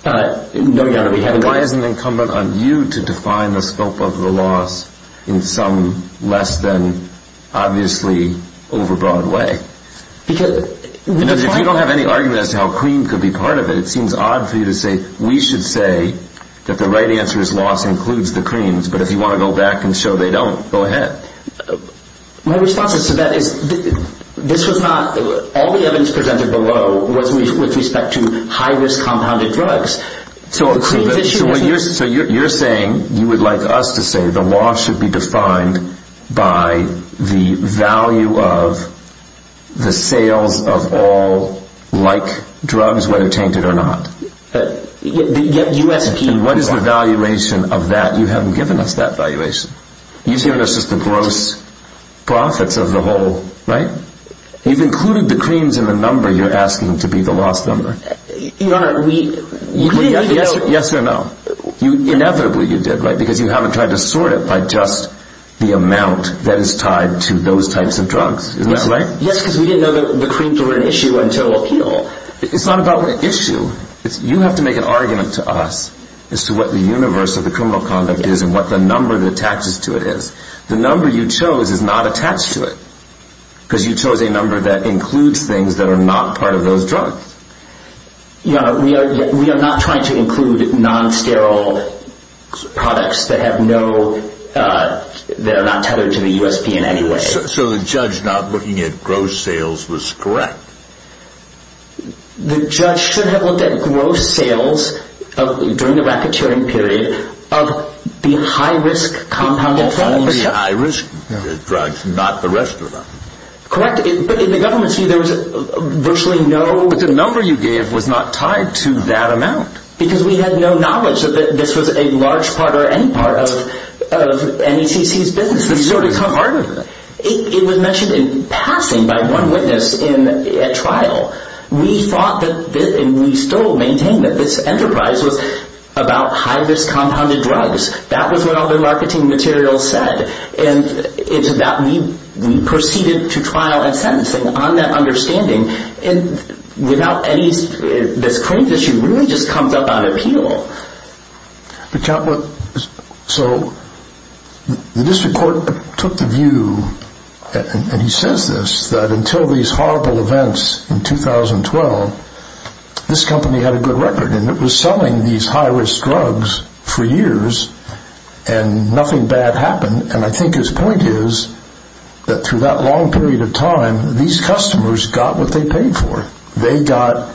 No, Your Honor. Why is it incumbent on you to define the scope of the loss in some less than obviously overbroad way? If you don't have any argument as to how cream could be part of it, it seems odd for you to say we should say that the right answer is loss includes the creams, but if you want to go back and show they don't, go ahead. My response to that is this was not, all the evidence presented below was with respect to high-risk compounded drugs. So you're saying you would like us to say the loss should be defined by the value of the sale of all like drugs, whether tainted or not. Yet you have to keep that. What is the valuation of that? You haven't given us that valuation. You've given us just the gross profits as a whole, right? You've included the creams in the number you're asking to be the loss number. Your Honor, we... Yes or no? Inevitably you did, right? Because you haven't tried to sort it by just the amount that is tied to those types of drugs. Isn't that right? Yes, because we didn't know the creams were an issue until... It's not about the issue. You have to make an argument to us as to what the universe of the criminal conduct is and what the number that attaches to it is. The number you chose is not attached to it because you chose a number that includes things that are not part of those drugs. No, we are not trying to include non-sterile products that have no... that are not tethered to the U.S. DNA anyway. So the judge not looking at gross sales was correct? The judge should have looked at gross sales during the vacaturing period of the high-risk compounded... The high-risk drugs, not the rest of them. Correct. But in the government's view, there was virtually no... The number you gave was not tied to that amount. Because we had no knowledge that this was a large part or any part of NETC's business. It was mentioned in passing by one witness at trial. We thought and we still maintain that this enterprise was about high-risk compounded drugs. That was what all the marketing material said. And we proceeded to trial and sentencing on that understanding. And without any... The crazy issue really just comes up on appeal. The district court took the view, and he says this, that until these horrible events in 2012, this company had a good record. And it was selling these high-risk drugs for years and nothing bad happened. And I think his point is that through that long period of time, these customers got what they paid for. They got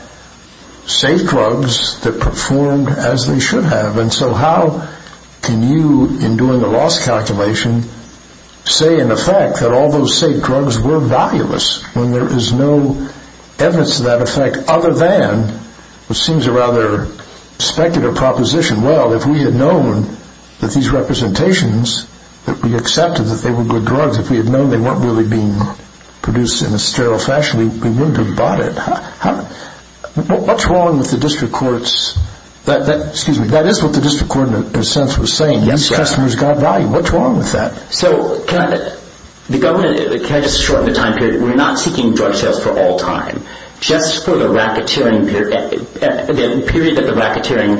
safe drugs that performed as they should have. And so how can you, in doing the loss calculation, say in effect that all those safe drugs were valueless when there is no evidence of that effect other than what seems a rather speculative proposition. Well, if we had known that these representations, if we accepted that they were good drugs, if we had known they weren't really being produced in a sterile fashion, we wouldn't have bought it. What's wrong with the district court's... Excuse me, that is what the district court in a sense was saying. These customers got value. What's wrong with that? So can I... Can I just shorten the time period? We're not seeking drug sales for all time. Just for the racketeering... The period that the racketeering...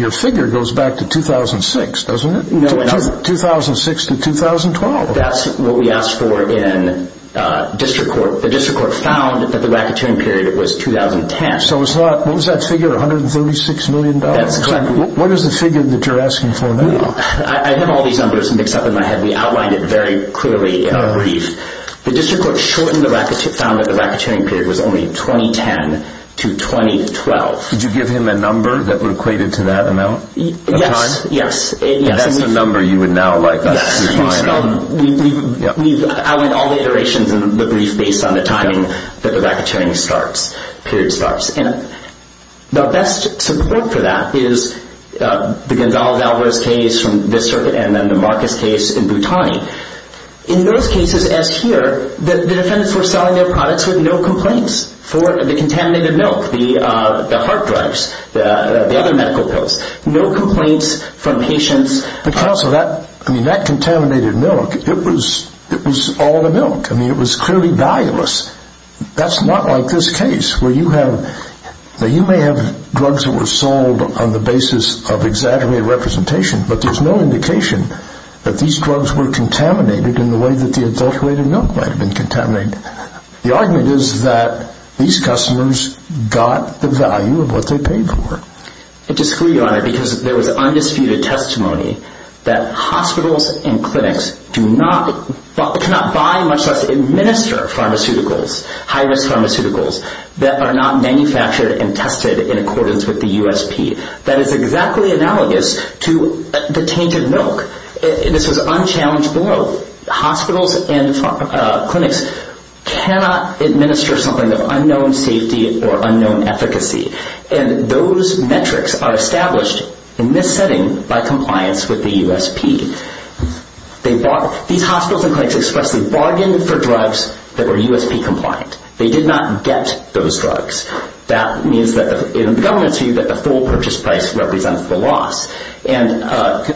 Your figure goes back to 2006, doesn't it? 2006 to 2012. That's what we asked for in district court. The district court found that the racketeering period was 2010. So it's not... What was that figure, $136 million? What is the figure that you're asking for now? I have all these numbers mixed up in my head. We outlined it very clearly in a brief. The district court shortened the racketeering period because it was only 2010 to 2012. Did you give him the numbers that were equated to that amount of time? Yes, yes. And that's the number you would now like us to define. We outlined all the iterations in the brief based on the timing that the racketeering period starts. The best support for that is the Gonzalez-Alvarez case from this circuit and then the Marcus case in Bhutani. In those cases, as here, the defendants were selling their products with no complaints for the contaminated milk, the heart drugs, the other medical pills. No complaints from patients. The cost of that contaminated milk, it was all the milk. I mean, it was clearly valueless. That's not like this case where you have... Now, you may have drugs that were sold on the basis of exactly representation, but there's no indication that these drugs were contaminated in the way that the adulterated milk might have been contaminated. The argument is that these customers got the value of what they paid for. But to screw you on it, because there was undisputed testimony that hospitals and clinics do not buy and administer pharmaceuticals, high-risk pharmaceuticals, that are not manufactured and tested in accordance with the USP. That is exactly analogous to the tainted milk in the sort of unchallenged world. Hospitals and clinics cannot administer something of unknown safety or unknown efficacy, and those metrics are established in this setting by compliance with the USP. These hospitals and clinics expressly bargained for drugs that were USP compliant. They did not get those drugs. That means that in the government's view, that the full purchase price represents the loss. I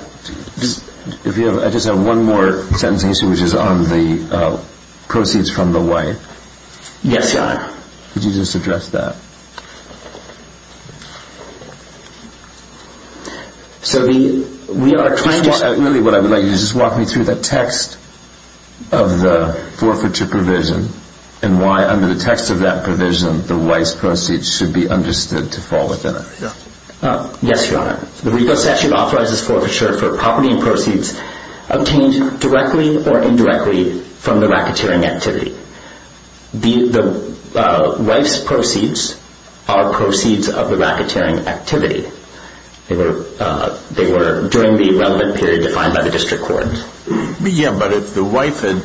just have one more presentation, which is on the proceeds from the wife. Yes, Your Honor. Could you just address that? We are trying to... What I would like you to do is just walk me through the text of the forfeiture provision and why, under the text of that provision, the wife's proceeds should be understood to fall within it. Yes, Your Honor. The legal section authorizes forfeiture for property and proceeds obtained directly or indirectly from the racketeering activity. The wife's proceeds are proceeds of the racketeering activity. They were during the relevant period defined by the district court. Yes, but if the wife had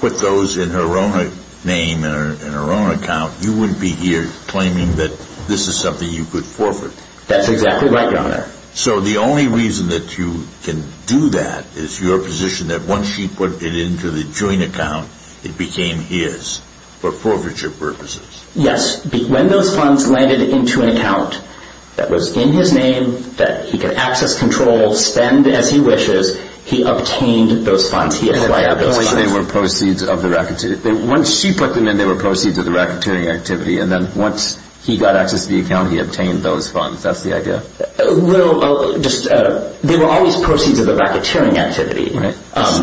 put those in her own name or in her own account, you wouldn't be here claiming that this is something you put forward. That's exactly right, Your Honor. So the only reason that you can do that is your position that once she put it into the joint account, it became his for forfeiture purposes. Yes. When those funds landed into an account that was in his name, that he could access, control, spend as he wishes, he obtained those funds. He acquired those funds. Once she put them in, they were proceeds of the racketeering activity, and then once he got access to the account, he obtained those funds. That's the idea? Well, they were always proceeds of the racketeering activity. Okay.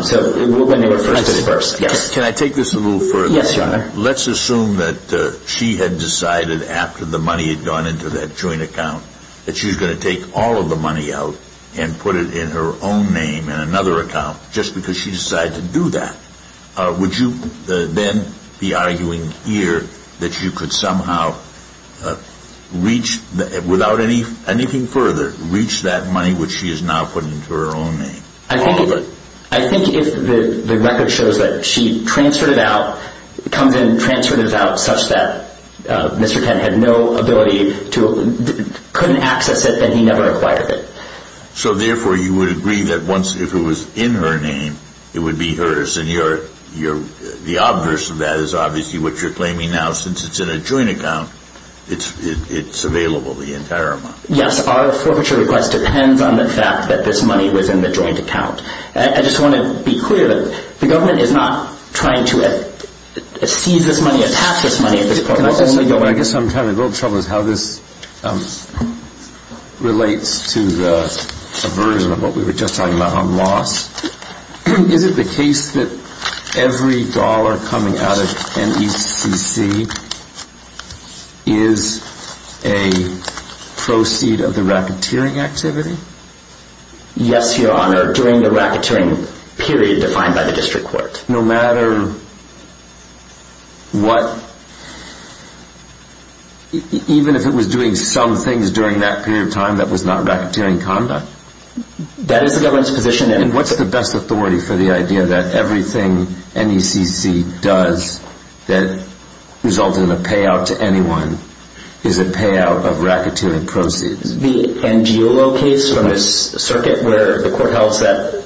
So let me rephrase this first. Can I take this a little further? Yes, Your Honor. Let's assume that she had decided after the money had gone into that joint account that she was going to take all of the money out and put it in her own name in another account just because she decided to do that. Would you then be arguing here that you could somehow reach, without anything further, reach that money which she is now putting into her own name? I think the record shows that she transferred it out, comes in and transfers it out such that Mr. Penn had no ability to, couldn't access it, and he never acquired it. So, therefore, you would agree that once it was in her name, it would be hers, and the obverse of that is obviously what you're claiming now. Since it's in a joint account, it's available, the entire amount. Yes. Our further request depends on the fact that this money was in the joint account. I just want to be clear that the government is not trying to seize this money, attach this money to this program. I guess I'm having a little trouble with how this relates to the subversion of what we were just talking about on loss. Is it the case that every dollar coming out of NECC is a proceed of the racketeering activity? Yes, Your Honor, during the racketeering period defined by the district court. No matter what, even if it was doing some things during that period of time that was not racketeering conduct? That is the government's position. And what's the best authority for the idea that everything NECC does that results in a payout to anyone is a payout of racketeering proceeds? The NGLO case from this circuit where the court held that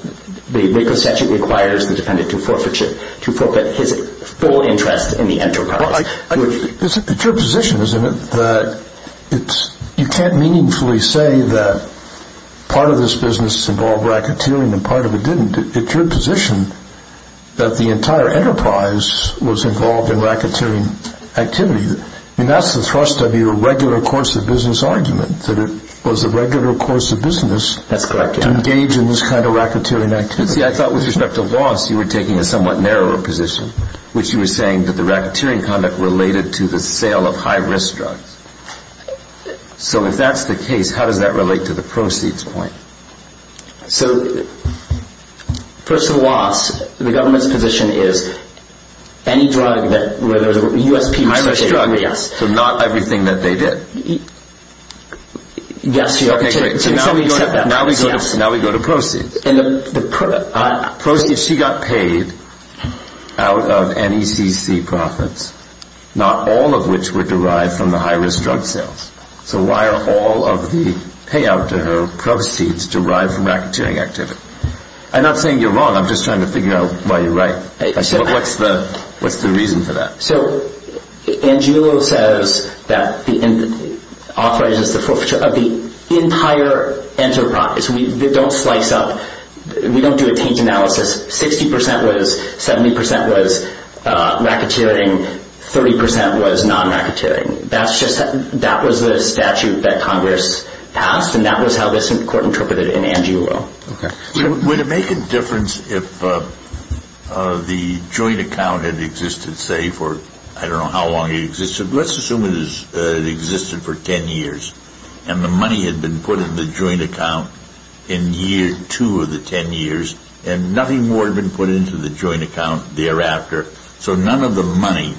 the maker's statute requires the defendant to appropriate his full interest in the enterprise. It's your position, isn't it, that you can't meaningfully say that part of this business involved racketeering and part of it didn't. It's your position that the entire enterprise was involved in racketeering activity. That's the thrust of your regular course of business argument, that it was the regular course of business to engage in this kind of racketeering activity. I thought with respect to loss you were taking a somewhat narrower position, which you were saying that the racketeering conduct related to the sale of high-risk drugs. So if that's the case, how does that relate to the proceeds point? So, first of all, the government's position is any drug that, whether the U.S.P. So not everything that they did? Yes. Now we go to proceeds. She got paid out of NECC profits, not all of which were derived from the high-risk drug sales. So why are all of the payout to her proceeds derived from racketeering activity? I'm not saying you're wrong. I'm just trying to figure out why you're right. What's the reason for that? So Angelo says that the entire enterprise, we don't slice up, we don't do a peak analysis, 60% was, 70% was racketeering, 30% was non-racketeering. That was the statute that Congress passed, and that was how the Supreme Court interpreted it in Angelo. Would it make a difference if the joint account had existed, say, for I don't know how long it existed. Let's assume it existed for 10 years, and the money had been put in the joint account in year two of the 10 years, and nothing more had been put into the joint account thereafter. So none of the money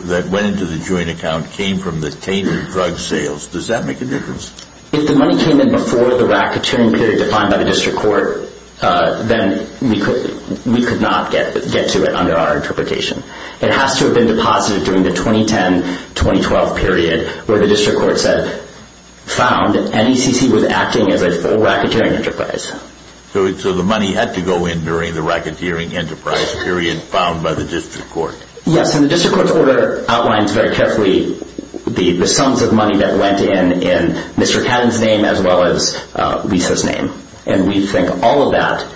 that went into the joint account came from the tainted drug sales. Does that make a difference? If the money came in before the racketeering period defined by the district court, then we could not get to it under our interpretation. It has to have been deposited during the 2010-2012 period where the district court said, found, NECC was acting as a racketeering enterprise. So the money had to go in during the racketeering enterprise period found by the district court. Yes, and the district court's order outlines very carefully the sums of money that went in in Mr. Catton's name as well as Lisa's name, and we think all of that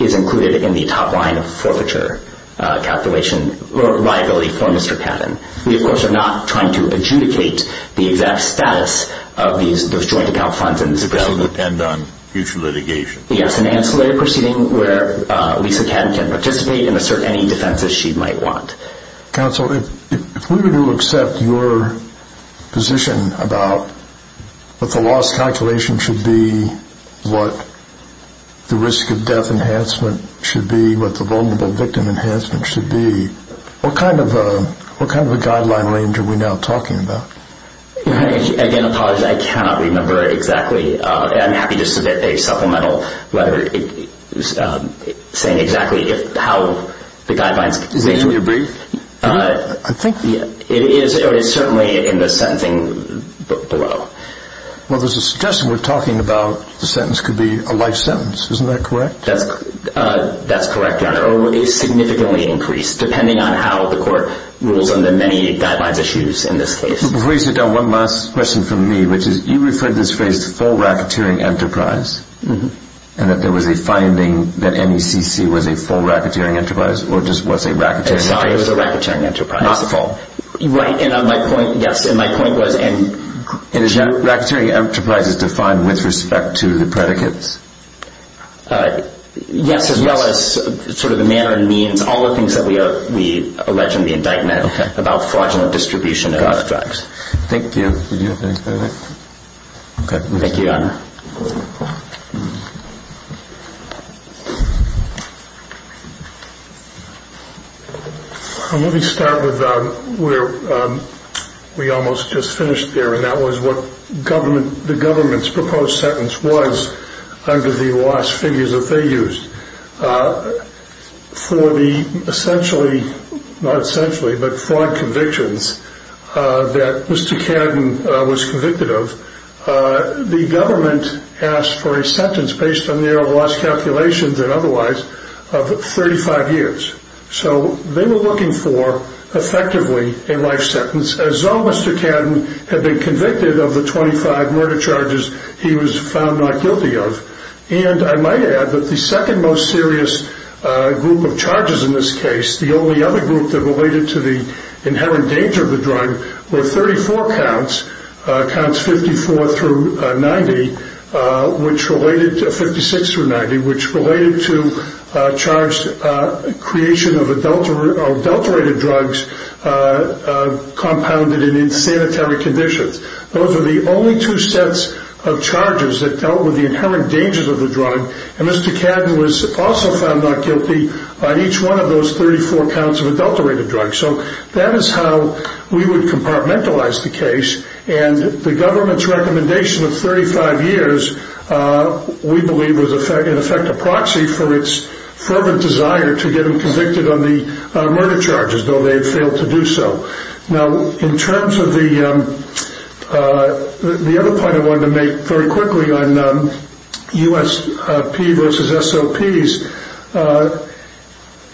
is included in the top line of forfeiture capitulation liability for Mr. Catton. We, of course, are not trying to adjudicate the exact status of those joint account funds. That will depend on future litigation. Yes, an ancillary proceeding where Lisa Catton can participate and assert any defense that she might want. Counsel, if we were to accept your position about what the loss calculation should be, what the risk of death enhancement should be, what the vulnerable victim enhancement should be, what kind of a guideline range are we now talking about? Again, I'm sorry, I cannot remember exactly. I'm happy to submit a supplemental letter saying exactly how the guidelines. Is it in your brief? I think so. It is certainly in the sentencing below. Well, there's a suggestion we're talking about the sentence could be a life sentence. Isn't that correct? That's correct, Your Honor. Depending on how the court rules on the many guidelines issued in this case. Before you sit down, one last question from me, which is you referred to this case full racketeering enterprise and that there was a finding that NECC was a full racketeering enterprise or just was a racketeering enterprise. It was a racketeering enterprise. Not the full. Right, and my point was in general. A racketeering enterprise is defined with respect to the predicates. Yes, as well as sort of the manner and means, all the things that we elect in the indictment about fraudulent distribution of narcotics. Thank you. Thank you, Your Honor. Let me start with where we almost just finished there, and that was what the government's proposed sentence was under the last figures that they used. For the essentially, not essentially, but fraud convictions that Mr. Cannon was convicted of, the government asked for a sentence based on their last calculations and otherwise of 35 years. So they were looking for effectively a life sentence, as though Mr. Cannon had been convicted of the 25 murder charges he was found not guilty of. And I might add that the second most serious group of charges in this case, the only other group that related to the inherent danger of the drug, were 34 counts, counts 54 through 90, which related to 56 through 90, which related to charged creation of adulterated drugs compounded in in sanitary conditions. Those are the only two sets of charges that dealt with the inherent dangers of the drug, and Mr. Cannon was also found not guilty on each one of those 34 counts of adulterated drugs. So that is how we would compartmentalize the case. And the government's recommendation of 35 years, we believe, was in effect a proxy for its fervent desire to get him convicted on the murder charges, though they failed to do so. Now, in terms of the other point I wanted to make very quickly on USP versus SOPs,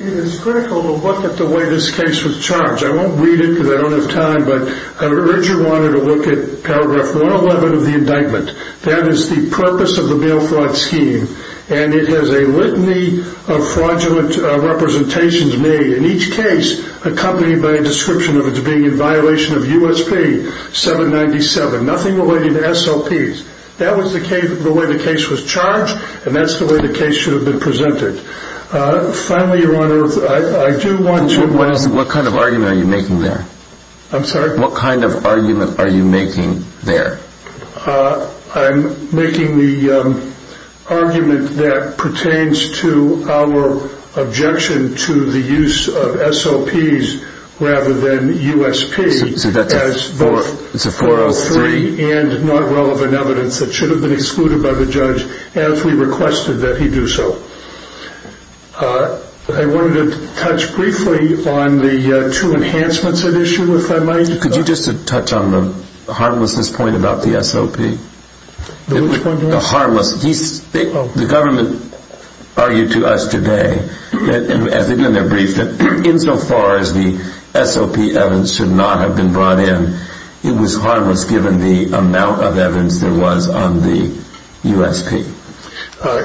it is critical to look at the way this case was charged. I won't read it because I don't have time, but I originally wanted to look at paragraph 111 of the indictment. That is the purpose of the bail fraud scheme, and it has a litany of fraudulent representations made, in each case accompanied by a description of it being in violation of USP 797. Nothing related to SOPs. That was the way the case was charged, and that's the way the case should have been presented. Finally, Your Honor, I do want to... What kind of argument are you making there? I'm sorry? What kind of argument are you making there? I'm making the argument that pertains to our objection to the use of SOPs rather than USP. It's a 403? It's a 403 and not relevant evidence that should have been excluded by the judge as we requested that he do so. I wanted to touch briefly on the two enhancements at issue with my mind. Could you just touch on the harmlessness point about the SOP? The harmlessness? The government argued to us today in their brief that insofar as the SOP evidence should not have been brought in, it was harmless given the amount of evidence there was on the USP.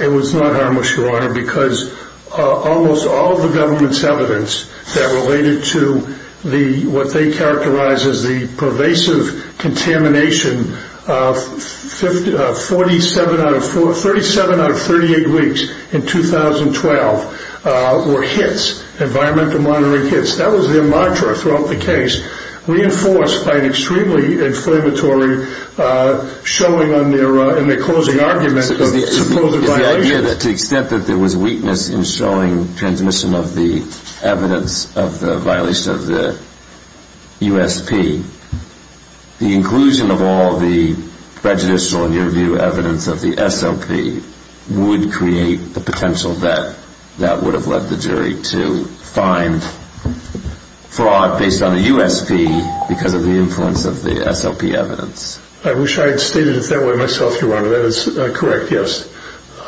It was not harmless, Your Honor, because almost all of the government's evidence that related to what they characterize as the pervasive contamination of 37 out of 38 weeks in 2012 were hits, environmental monitoring hits. That was their mantra throughout the case, reinforced by an extremely inflammatory showing in their closing argument of supposed violations. The idea that to the extent that there was weakness in showing transmission of the evidence of the violation of the USP, the inclusion of all the prejudicial and near view evidence of the SOP would create the potential that that would have led the jury to find fraud based on the USP because of the influence of the SOP evidence. I wish I had stated it that way myself, Your Honor. That is correct, yes.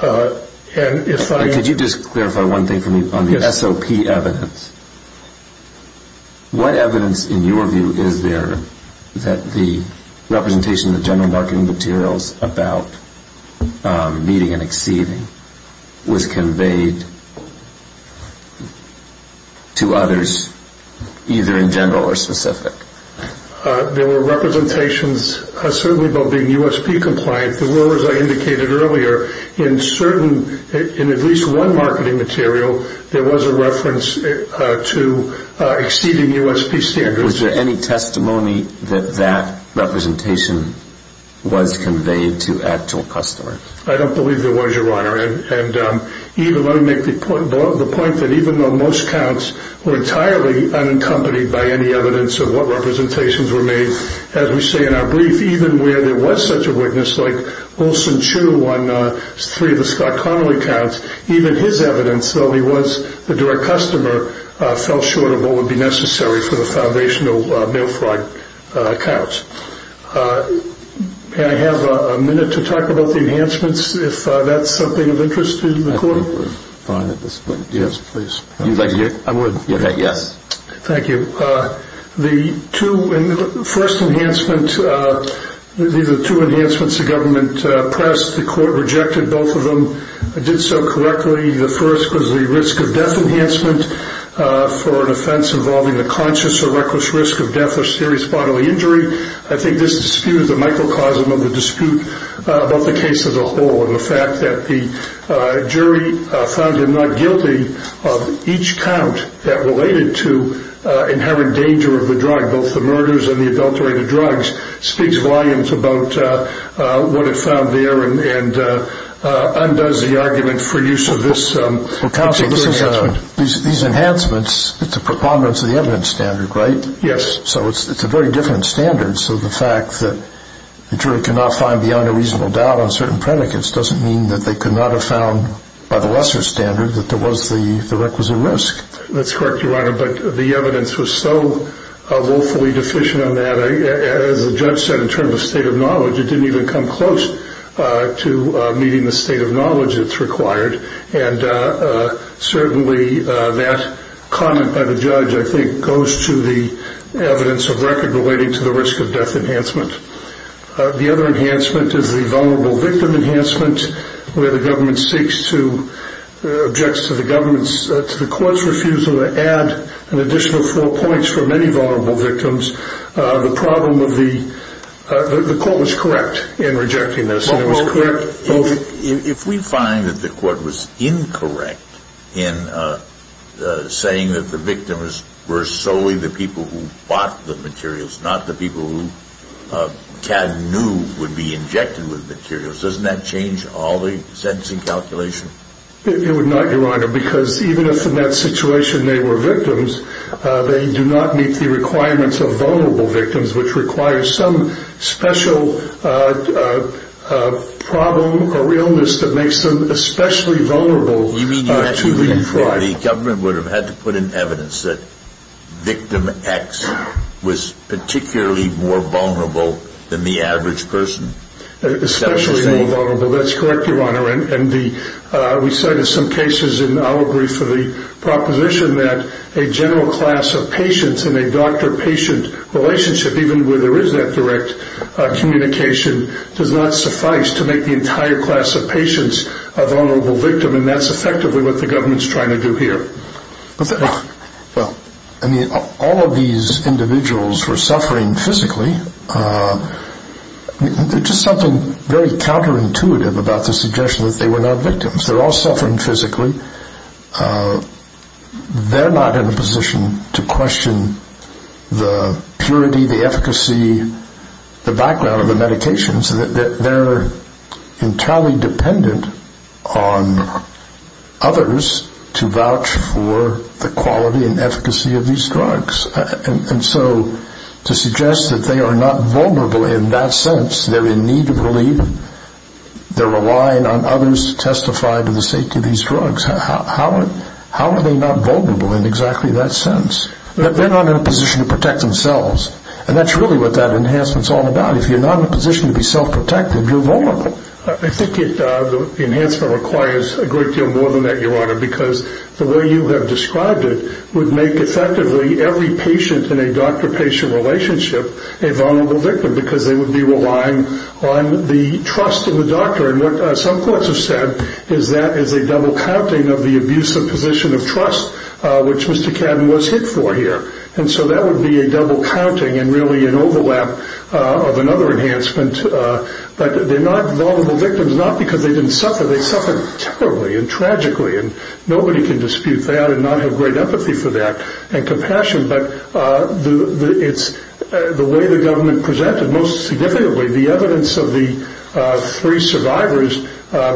Could you just clarify one thing for me on the SOP evidence? What evidence in your view is there that the representation of general marketing materials about meeting and exceeding was conveyed to others either in general or specific? There were representations certainly about being USP compliant, but as I indicated earlier, in at least one marketing material there was a reference to exceeding USP standards. Was there any testimony that that representation was conveyed to actual customers? Even though most accounts were entirely unaccompanied by any evidence of what representations were made, as we say in our brief, even where there was such a witness like Olson Chu on three of the Scott Connelly accounts, even his evidence, though he was the direct customer, fell short of what would be necessary for the foundation of no fraud accounts. May I have a minute to talk about the enhancements, if that's of interest to the court? Yes, please. Thank you. The first enhancement, these are two enhancements the government pressed. The court rejected both of them. It did so correctly. The first was the risk of death enhancement for an offense involving the conscious or reckless risk of death or serious bodily injury. I think this disputes the microcosm of the dispute about the case as a whole, and the fact that the jury found him not guilty of each count that related to inherent danger of the drug, both the murders and the adulterated drugs, speaks volumes about what it found there and undoes the argument for use of this precautionary enhancement. These enhancements, it's a preponderance of the evidence standard, right? Yes. So it's a very different standard. So the fact that the jury could not find beyond a reasonable doubt on certain predicates doesn't mean that they could not have found by the lesser standard that there was the reckless risk. That's correct, Your Honor, but the evidence was so woefully deficient in that, as the judge said, in terms of state of knowledge, it didn't even come close to meeting the state of knowledge that's required. And certainly that comment by the judge, I think, goes to the evidence of record relating to the risk of death enhancement. The other enhancement is the vulnerable victim enhancement, where the government seeks to object to the government's, the court's refusal to add an additional four points for many vulnerable victims. The problem of the, the court was correct in rejecting this. If we find that the court was incorrect in saying that the victims were solely the people who bought the materials, not the people who knew would be injected with the materials, doesn't that change all the sentencing calculation? It would not, Your Honor, because even if in that situation they were victims, they do not meet the requirements of vulnerable victims, which requires some special problem or illness that makes them especially vulnerable to be tried. The government would have had to put in evidence that victim X was particularly more vulnerable than the average person. We said in some cases, and I'll agree for the proposition, that a general class of patients in a doctor-patient relationship, even where there is that direct communication, does not suffice to make the entire class of patients a vulnerable victim, and that's effectively what the government's trying to do here. All of these individuals were suffering physically. There's just something very counterintuitive about the suggestion that they were not victims. They're all suffering physically. They're not in a position to question the purity, the efficacy, the background of the medications. They're entirely dependent on others to vouch for the quality and efficacy of these drugs. So to suggest that they are not vulnerable in that sense, they're in need of relief, they're relying on others to testify to the safety of these drugs, how are they not vulnerable in exactly that sense? They're not in a position to protect themselves, and that's really what that enhancement's all about. If you're not in a position to be self-protective, you're vulnerable. I think the enhancement requires a great deal more than that, Your Honor, because the way you have described it would make, effectively, every patient in a doctor-patient relationship a vulnerable victim because they would be relying on the trust of the doctor. And what some courts have said is that it's a double counting of the abusive position of trust, which Mr. Cannon was hit for here. And so that would be a double counting and really an overlap of another enhancement. But they're not vulnerable victims, not because they didn't suffer. They suffered terribly and tragically, and nobody can dispute that and not have great empathy for that and compassion, but the way the government presented most significantly the evidence of the three survivors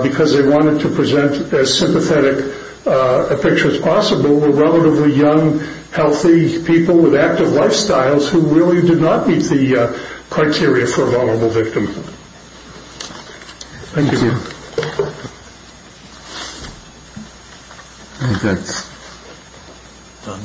because they wanted to present as sympathetic a picture as possible were relatively young, healthy people with active lifestyles who really did not meet the criteria for a vulnerable victim. Thank you. Thank you, again. Thank you.